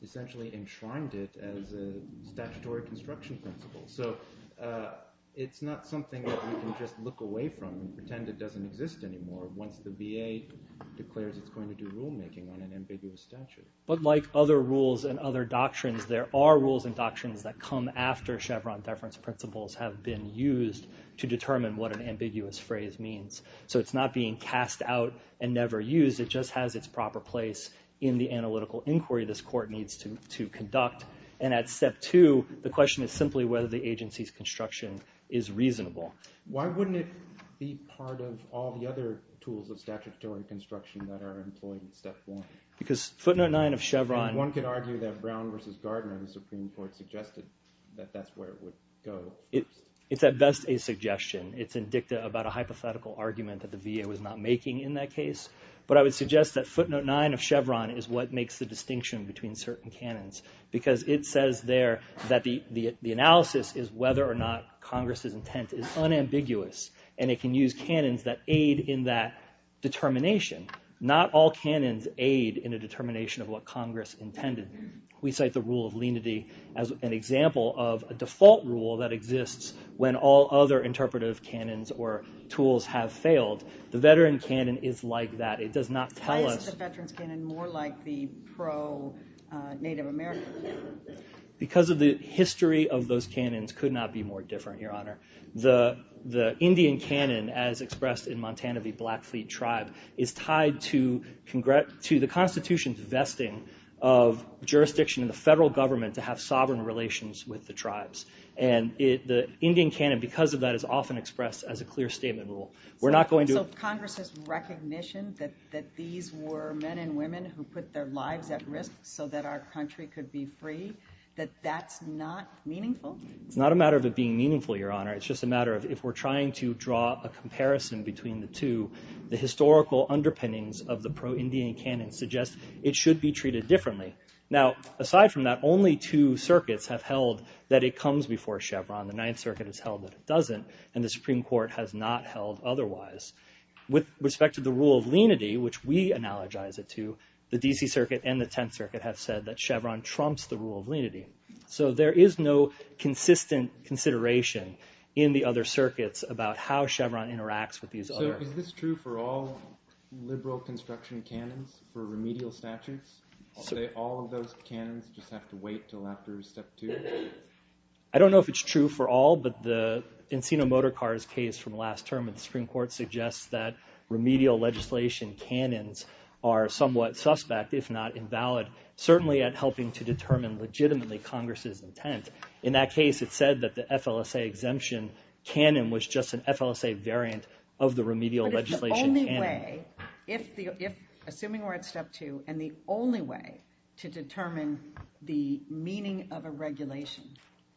essentially enshrined it as a statutory construction principle. So it's not something that we can just look away from and pretend it doesn't exist anymore once the VA declares it's going to do rulemaking on an ambiguous statute. But like other rules and other doctrines, there are rules and doctrines that come after Chevron deference principles have been used to determine what an ambiguous phrase means. So it's not being cast out and never used. It just has its proper place in the analytical inquiry this court needs to conduct. And at Step 2, the question is simply whether the agency's construction is reasonable. Why wouldn't it be part of all the other tools of statutory construction that are employed in Step 1? Because footnote 9 of Chevron— It's at best a suggestion. It's indicative about a hypothetical argument that the VA was not making in that case. But I would suggest that footnote 9 of Chevron is what makes the distinction between certain canons because it says there that the analysis is whether or not Congress's intent is unambiguous. And it can use canons that aid in that determination. Not all canons aid in a determination of what Congress intended. We cite the rule of lenity as an example of a default rule that exists when all other interpretive canons or tools have failed. The veteran canon is like that. It does not tell us— Why is the veterans canon more like the pro-Native American canon? Because the history of those canons could not be more different, Your Honor. The Indian canon, as expressed in Montana v. Blackfleet Tribe, is tied to the Constitution's vesting of jurisdiction in the federal government to have sovereign relations with the tribes. And the Indian canon, because of that, is often expressed as a clear statement rule. We're not going to— So Congress's recognition that these were men and women who put their lives at risk so that our country could be free, that that's not meaningful? It's not a matter of it being meaningful, Your Honor. It's just a matter of if we're trying to draw a comparison between the two, the historical underpinnings of the pro-Indian canon suggests it should be treated differently. Now, aside from that, only two circuits have held that it comes before Chevron. The Ninth Circuit has held that it doesn't, and the Supreme Court has not held otherwise. With respect to the rule of lenity, which we analogize it to, the D.C. Circuit and the Tenth Circuit have said that Chevron trumps the rule of lenity. So there is no consistent consideration in the other circuits about how Chevron interacts with these other— Now, is this true for all liberal construction canons for remedial statutes? All of those canons just have to wait until after Step 2? I don't know if it's true for all, but the Encino Motor Cars case from last term of the Supreme Court suggests that remedial legislation canons are somewhat suspect, if not invalid, certainly at helping to determine legitimately Congress's intent. In that case, it said that the FLSA exemption canon was just an FLSA variant of the remedial legislation canon. But if the only way—assuming we're at Step 2, and the only way to determine the meaning of a regulation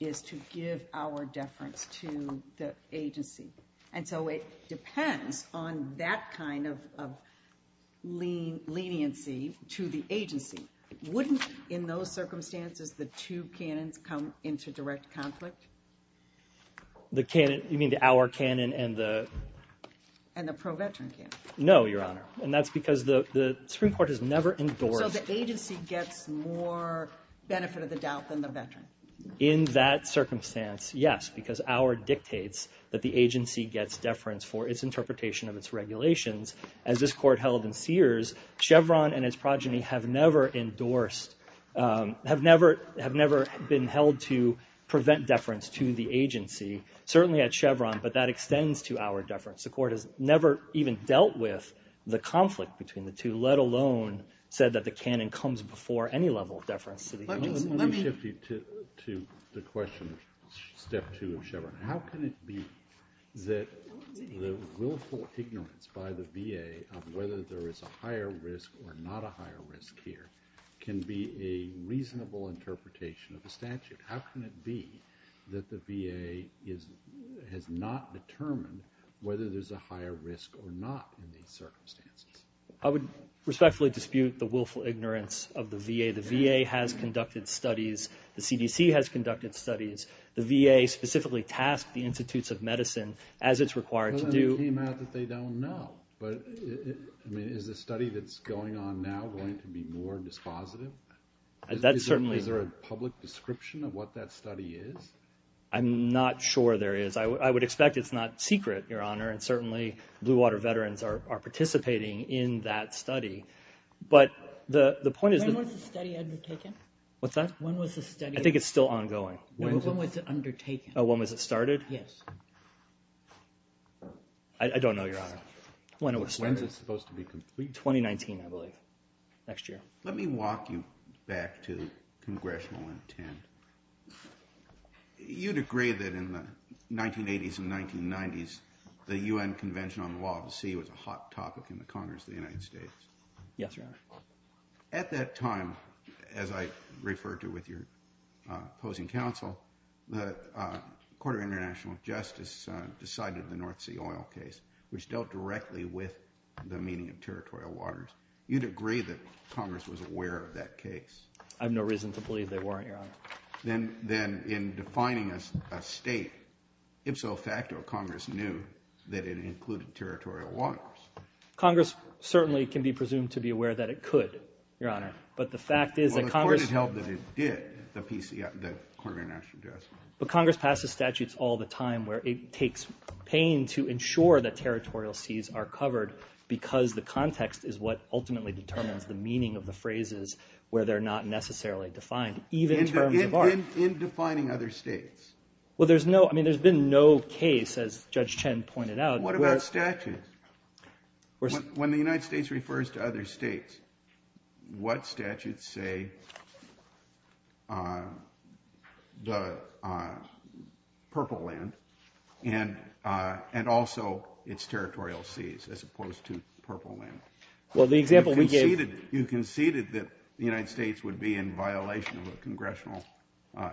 is to give our deference to the agency, and so it depends on that kind of leniency to the agency, wouldn't in those circumstances the two canons come into direct conflict? The canon—you mean the Auer canon and the— And the pro-veteran canon. No, Your Honor, and that's because the Supreme Court has never endorsed— So the agency gets more benefit of the doubt than the veteran. In that circumstance, yes, because Auer dictates that the agency gets deference for its interpretation of its regulations. As this Court held in Sears, Chevron and its progeny have never endorsed— certainly at Chevron, but that extends to our deference. The Court has never even dealt with the conflict between the two, let alone said that the canon comes before any level of deference to the agency. Let me shift you to the question of Step 2 of Chevron. How can it be that the willful ignorance by the VA of whether there is a higher risk or not a higher risk here can be a reasonable interpretation of the statute? How can it be that the VA has not determined whether there's a higher risk or not in these circumstances? I would respectfully dispute the willful ignorance of the VA. The VA has conducted studies. The CDC has conducted studies. The VA specifically tasked the Institutes of Medicine, as it's required to do— Well, then it came out that they don't know. But, I mean, is the study that's going on now going to be more dispositive? Is there a public description of what that study is? I'm not sure there is. I would expect it's not secret, Your Honor, and certainly Blue Water veterans are participating in that study. But the point is— When was the study undertaken? What's that? When was the study— I think it's still ongoing. When was it undertaken? Oh, when was it started? Yes. I don't know, Your Honor. When was it supposed to be completed? 2019, I believe. Next year. Let me walk you back to congressional intent. You'd agree that in the 1980s and 1990s, the U.N. Convention on the Law of the Sea was a hot topic in the Congress of the United States. Yes, Your Honor. At that time, as I referred to with your opposing counsel, the Court of International Justice decided the North Sea oil case, which dealt directly with the meaning of territorial waters. You'd agree that Congress was aware of that case. I have no reason to believe they weren't, Your Honor. Then in defining a state, ipso facto Congress knew that it included territorial waters. Congress certainly can be presumed to be aware that it could, Your Honor. But the fact is that Congress— Well, the Court had held that it did, the Court of International Justice. But Congress passes statutes all the time where it takes pain to ensure that territorial seas are covered because the context is what ultimately determines the meaning of the phrases where they're not necessarily defined, even in terms of art. In defining other states? Well, there's no—I mean, there's been no case, as Judge Chen pointed out— What about statutes? When the United States refers to other states, what statutes say the Purple Land and also its territorial seas, as opposed to Purple Land? Well, the example we gave— You conceded that the United States would be in violation of a congressional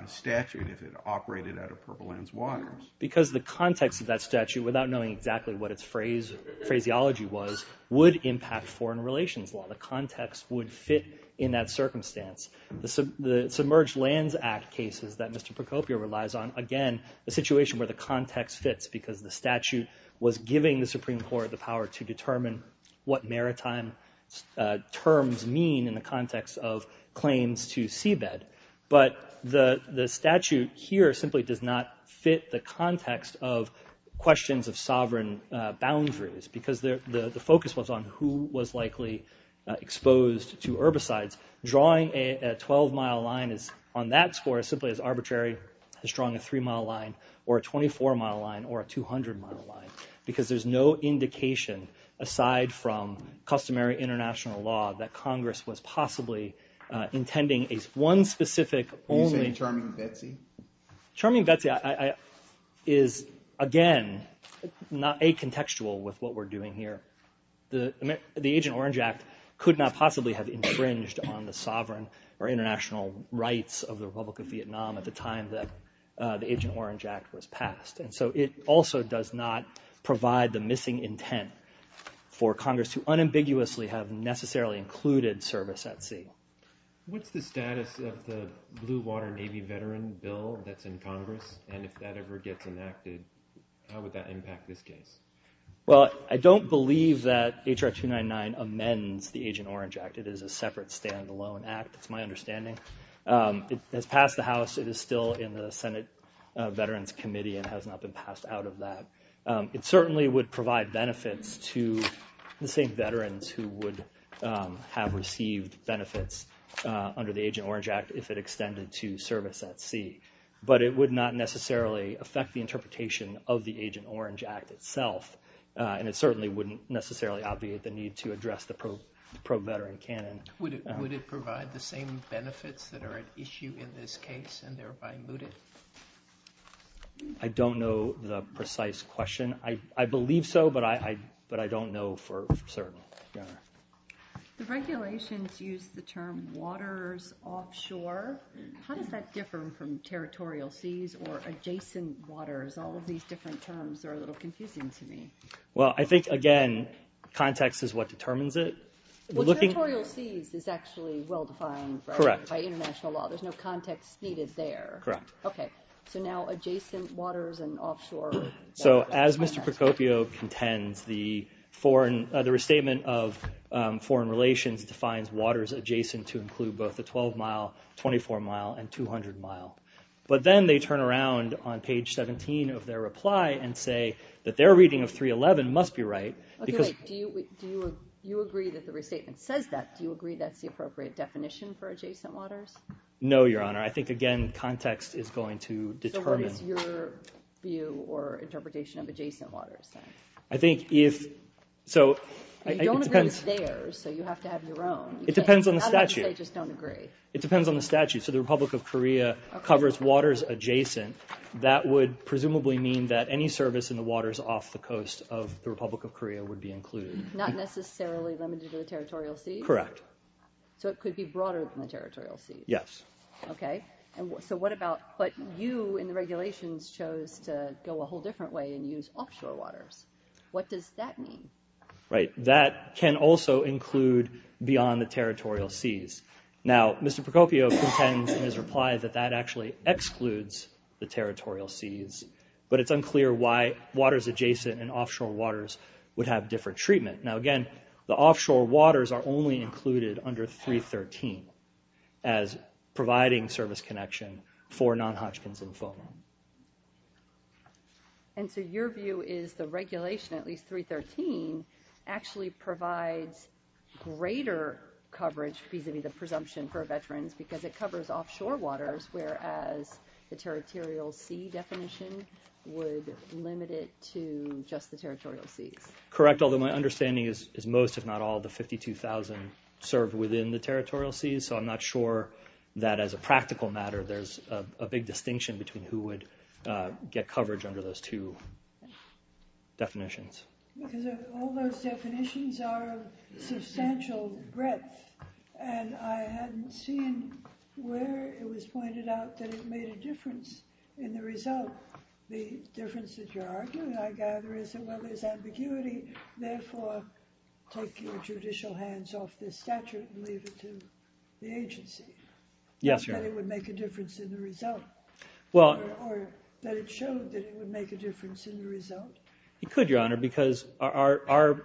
statute if it operated out of Purple Land's waters. Because the context of that statute, without knowing exactly what its phraseology was, would impact foreign relations law. The context would fit in that circumstance. The Submerged Lands Act cases that Mr. Procopio relies on, again, the situation where the context fits because the statute was giving the Supreme Court the power to determine what maritime terms mean in the context of claims to seabed. But the statute here simply does not fit the context of questions of sovereign boundaries because the focus was on who was likely exposed to herbicides. Drawing a 12-mile line on that score is simply as arbitrary as drawing a 3-mile line or a 24-mile line or a 200-mile line because there's no indication, aside from customary international law, that Congress was possibly intending one specific only— Are you saying Charming Betsy? Charming Betsy is, again, not acontextual with what we're doing here. The Agent Orange Act could not possibly have infringed on the sovereign or international rights of the Republic of Vietnam at the time that the Agent Orange Act was passed. And so it also does not provide the missing intent for Congress to unambiguously have necessarily included service at sea. What's the status of the Blue Water Navy veteran bill that's in Congress? And if that ever gets enacted, how would that impact this case? Well, I don't believe that H.R. 299 amends the Agent Orange Act. It is a separate, standalone act. That's my understanding. It has passed the House. It is still in the Senate Veterans Committee and has not been passed out of that. It certainly would provide benefits to the same veterans who would have received benefits under the Agent Orange Act if it extended to service at sea. But it would not necessarily affect the interpretation of the Agent Orange Act itself, and it certainly wouldn't necessarily obviate the need to address the pro-veteran canon. Would it provide the same benefits that are at issue in this case and thereby moot it? I don't know the precise question. I believe so, but I don't know for certain. The regulations use the term waters offshore. How does that differ from territorial seas or adjacent waters? All of these different terms are a little confusing to me. Well, I think, again, context is what determines it. Well, territorial seas is actually well-defined by international law. There's no context needed there. Correct. Okay, so now adjacent waters and offshore waters. So as Mr. Procopio contends, the restatement of foreign relations defines waters adjacent to include both the 12-mile, 24-mile, and 200-mile. But then they turn around on page 17 of their reply and say that their reading of 311 must be right. Okay, but do you agree that the restatement says that? Do you agree that's the appropriate definition for adjacent waters? No, Your Honor. I think, again, context is going to determine. So what is your view or interpretation of adjacent waters then? I think if so— You don't agree with theirs, so you have to have your own. It depends on the statute. How do you say just don't agree? It depends on the statute. So the Republic of Korea covers waters adjacent. That would presumably mean that any service in the waters off the coast of the Republic of Korea would be included. Not necessarily limited to the territorial seas? Correct. So it could be broader than the territorial seas? Yes. Okay. So what about—but you in the regulations chose to go a whole different way and use offshore waters. What does that mean? Right. That can also include beyond the territorial seas. Now, Mr. Procopio contends in his reply that that actually excludes the territorial seas, but it's unclear why waters adjacent and offshore waters would have different treatment. Now, again, the offshore waters are only included under 313 as providing service connection for non-Hodgkin's and FOMA. And so your view is the regulation, at least 313, actually provides greater coverage vis-a-vis the presumption for veterans because it covers offshore waters, whereas the territorial sea definition would limit it to just the territorial seas. Correct, although my understanding is most, if not all, the 52,000 served within the territorial seas, so I'm not sure that as a practical matter there's a big distinction between who would get coverage under those two definitions. Because all those definitions are of substantial breadth, and I hadn't seen where it was pointed out that it made a difference in the result. The difference that you're arguing, I gather, is that, well, there's ambiguity. Therefore, take your judicial hands off this statute and leave it to the agency. Yes, Your Honor. That it would make a difference in the result, or that it showed that it would make a difference in the result. It could, Your Honor, because our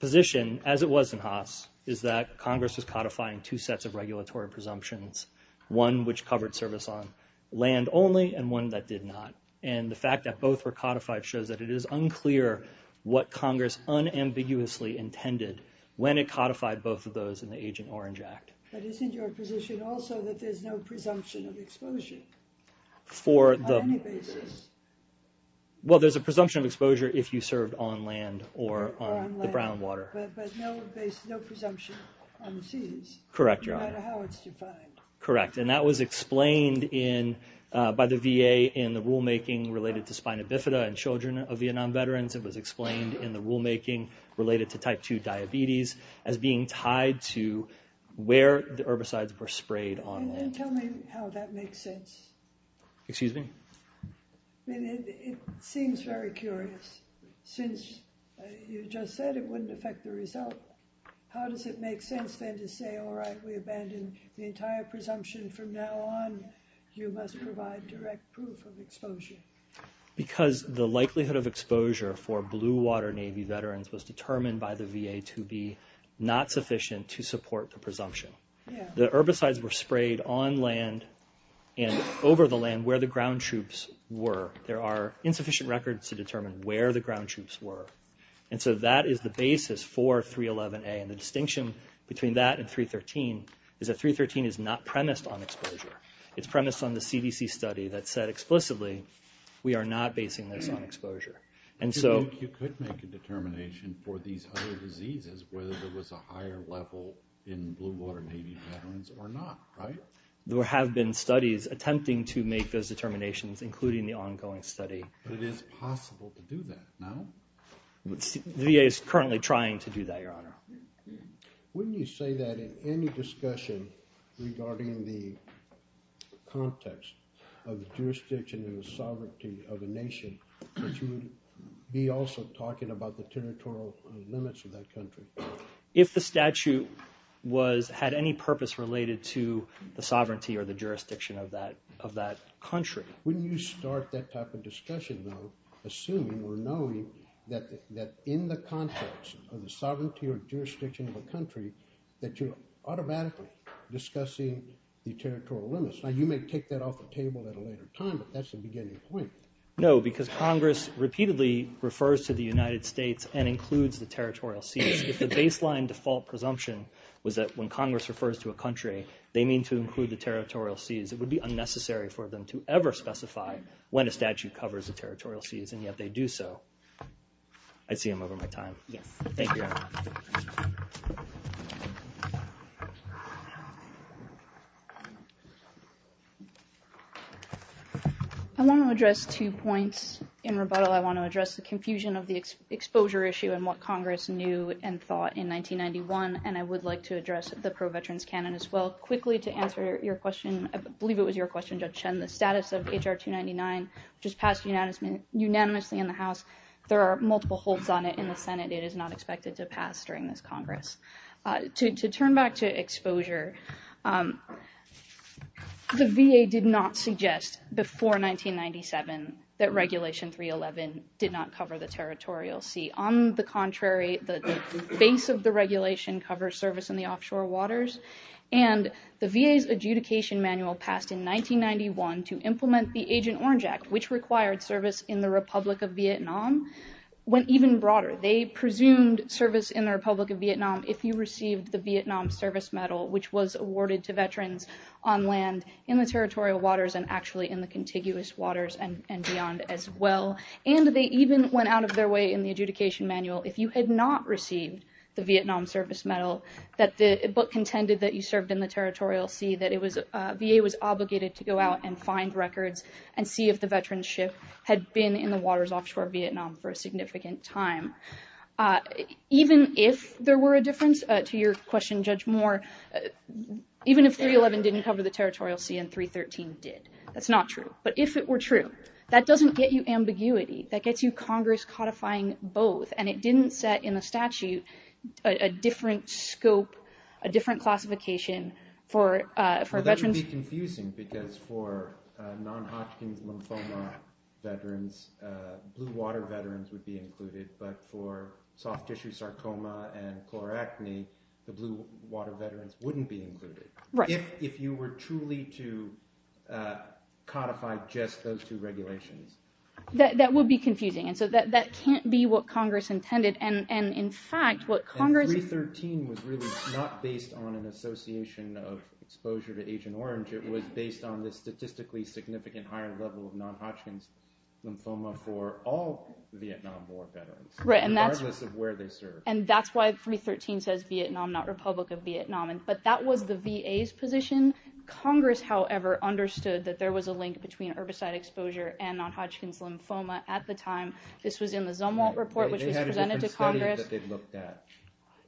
position, as it was in Haas, is that Congress was codifying two sets of regulatory presumptions, one which covered service on land only and one that did not. And the fact that both were codified shows that it is unclear what Congress unambiguously intended when it codified both of those in the Agent Orange Act. But isn't your position also that there's no presumption of exposure on any basis? Well, there's a presumption of exposure if you served on land or on the brown water. But no presumption on the seas? Correct, Your Honor. No matter how it's defined? Correct. And that was explained by the VA in the rulemaking related to spina bifida in children of Vietnam veterans. It was explained in the rulemaking related to type 2 diabetes as being tied to where the herbicides were sprayed on land. Then tell me how that makes sense. Excuse me? It seems very curious. Since you just said it wouldn't affect the result, how does it make sense then to say, all right, we abandon the entire presumption from now on. You must provide direct proof of exposure. Because the likelihood of exposure for blue water Navy veterans was determined by the VA to be not sufficient to support the presumption. The herbicides were sprayed on land and over the land where the ground troops were. There are insufficient records to determine where the ground troops were. And so that is the basis for 311A. And the distinction between that and 313 is that 313 is not premised on exposure. It's premised on the CDC study that said explicitly, we are not basing this on exposure. You could make a determination for these other diseases, whether there was a higher level in blue water Navy veterans or not, right? There have been studies attempting to make those determinations, including the ongoing study. But it is possible to do that, no? The VA is currently trying to do that, Your Honor. Wouldn't you say that in any discussion regarding the context of jurisdiction and the sovereignty of a nation, that you would be also talking about the territorial limits of that country? If the statute had any purpose related to the sovereignty or the jurisdiction of that country. Wouldn't you start that type of discussion, though, assuming or knowing that in the context of the sovereignty or jurisdiction of a country, that you're automatically discussing the territorial limits? Now, you may take that off the table at a later time, but that's the beginning point. No, because Congress repeatedly refers to the United States and includes the territorial seas. If the baseline default presumption was that when Congress refers to a country, they mean to include the territorial seas, it would be unnecessary for them to ever specify when a statute covers the territorial seas, and yet they do so. I see I'm over my time. Thank you, Your Honor. I want to address two points in rebuttal. I want to address the confusion of the exposure issue and what Congress knew and thought in 1991, and I would like to address the pro-veterans canon as well. Quickly, to answer your question, I believe it was your question, Judge Chen, the status of H.R. 299, which was passed unanimously in the House. There are multiple holds on it in the Senate. It is not expected to pass during this Congress. To turn back to exposure, the VA did not suggest before 1997 that Regulation 311 did not cover the territorial sea. On the contrary, the base of the regulation covers service in the offshore waters, and the VA's adjudication manual passed in 1991 to implement the Agent Orange Act, which required service in the Republic of Vietnam, went even broader. They presumed service in the Republic of Vietnam if you received the Vietnam Service Medal, which was awarded to veterans on land in the territorial waters and actually in the contiguous waters and beyond as well, and they even went out of their way in the adjudication manual if you had not received the Vietnam Service Medal, that the book contended that you served in the territorial sea, that VA was obligated to go out and find records and see if the veterans' ship had been in the waters offshore Vietnam for a significant time. Even if there were a difference, to your question, Judge Moore, even if 311 didn't cover the territorial sea and 313 did. That's not true. But if it were true, that doesn't get you ambiguity. That gets you Congress codifying both, and it didn't set in the statute a different scope, a different classification for veterans. That would be confusing because for non-Hodgkin's lymphoma veterans, blue-water veterans would be included, but for soft-tissue sarcoma and colorectomy, the blue-water veterans wouldn't be included. If you were truly to codify just those two regulations. That would be confusing. And so that can't be what Congress intended. And, in fact, what Congress— And 313 was really not based on an association of exposure to Agent Orange. It was based on the statistically significant higher level of non-Hodgkin's lymphoma for all Vietnam War veterans, regardless of where they served. And that's why 313 says Vietnam, not Republic of Vietnam. But that was the VA's position. Congress, however, understood that there was a link between herbicide exposure and non-Hodgkin's lymphoma at the time. This was in the Zumwalt report, which was presented to Congress.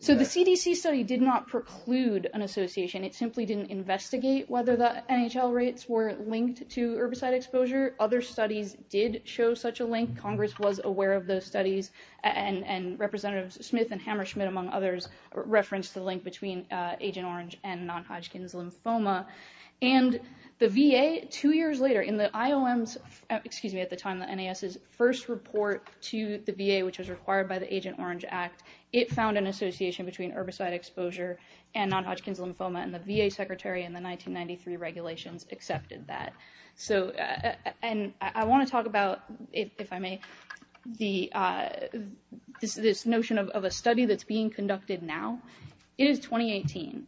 So the CDC study did not preclude an association. It simply didn't investigate whether the NHL rates were linked to herbicide exposure. Other studies did show such a link. Congress was aware of those studies, and Representatives Smith and Hammersmith, among others, referenced the link between Agent Orange and non-Hodgkin's lymphoma. And the VA, two years later, in the IOM's— excuse me, at the time, the NAS's first report to the VA, which was required by the Agent Orange Act, it found an association between herbicide exposure and non-Hodgkin's lymphoma, and the VA secretary in the 1993 regulations accepted that. And I want to talk about, if I may, this notion of a study that's being conducted now. It is 2018.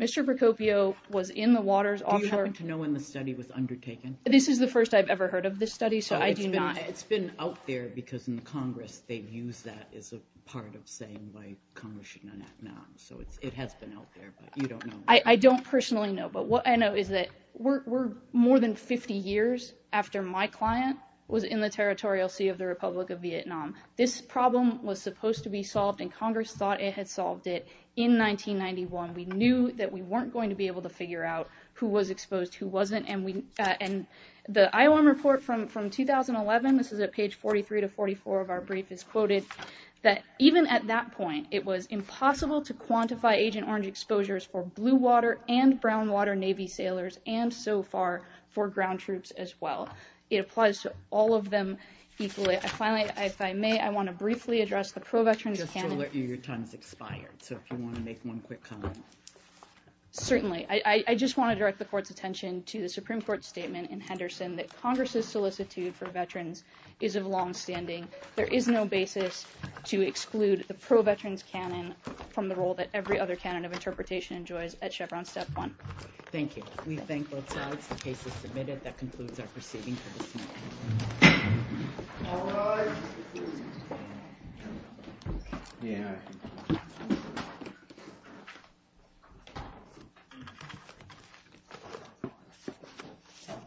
Mr. Procopio was in the Waters offshore— Do you happen to know when the study was undertaken? This is the first I've ever heard of this study, so I do not— It's been out there because in Congress they've used that as a part of saying why Congress should not act now. So it has been out there, but you don't know. I don't personally know, but what I know is that we're more than 50 years after my client was in the territorial sea of the Republic of Vietnam. This problem was supposed to be solved, and Congress thought it had solved it. In 1991, we knew that we weren't going to be able to figure out who was exposed, who wasn't, and the IOM report from 2011—this is at page 43 to 44 of our brief— is quoted that even at that point, it was impossible to quantify agent orange exposures for blue water and brown water Navy sailors, and so far, for ground troops as well. It applies to all of them equally. Finally, if I may, I want to briefly address the ProVeterans— Just to alert you, your time has expired, so if you want to make one quick comment. Certainly. I just want to direct the Court's attention to the Supreme Court's statement in Henderson that Congress's solicitude for veterans is of longstanding. There is no basis to exclude the ProVeterans canon from the role that every other canon of interpretation enjoys at Chevron Step 1. Thank you. We thank both sides. The case is submitted. That concludes our proceeding for this morning. All rise.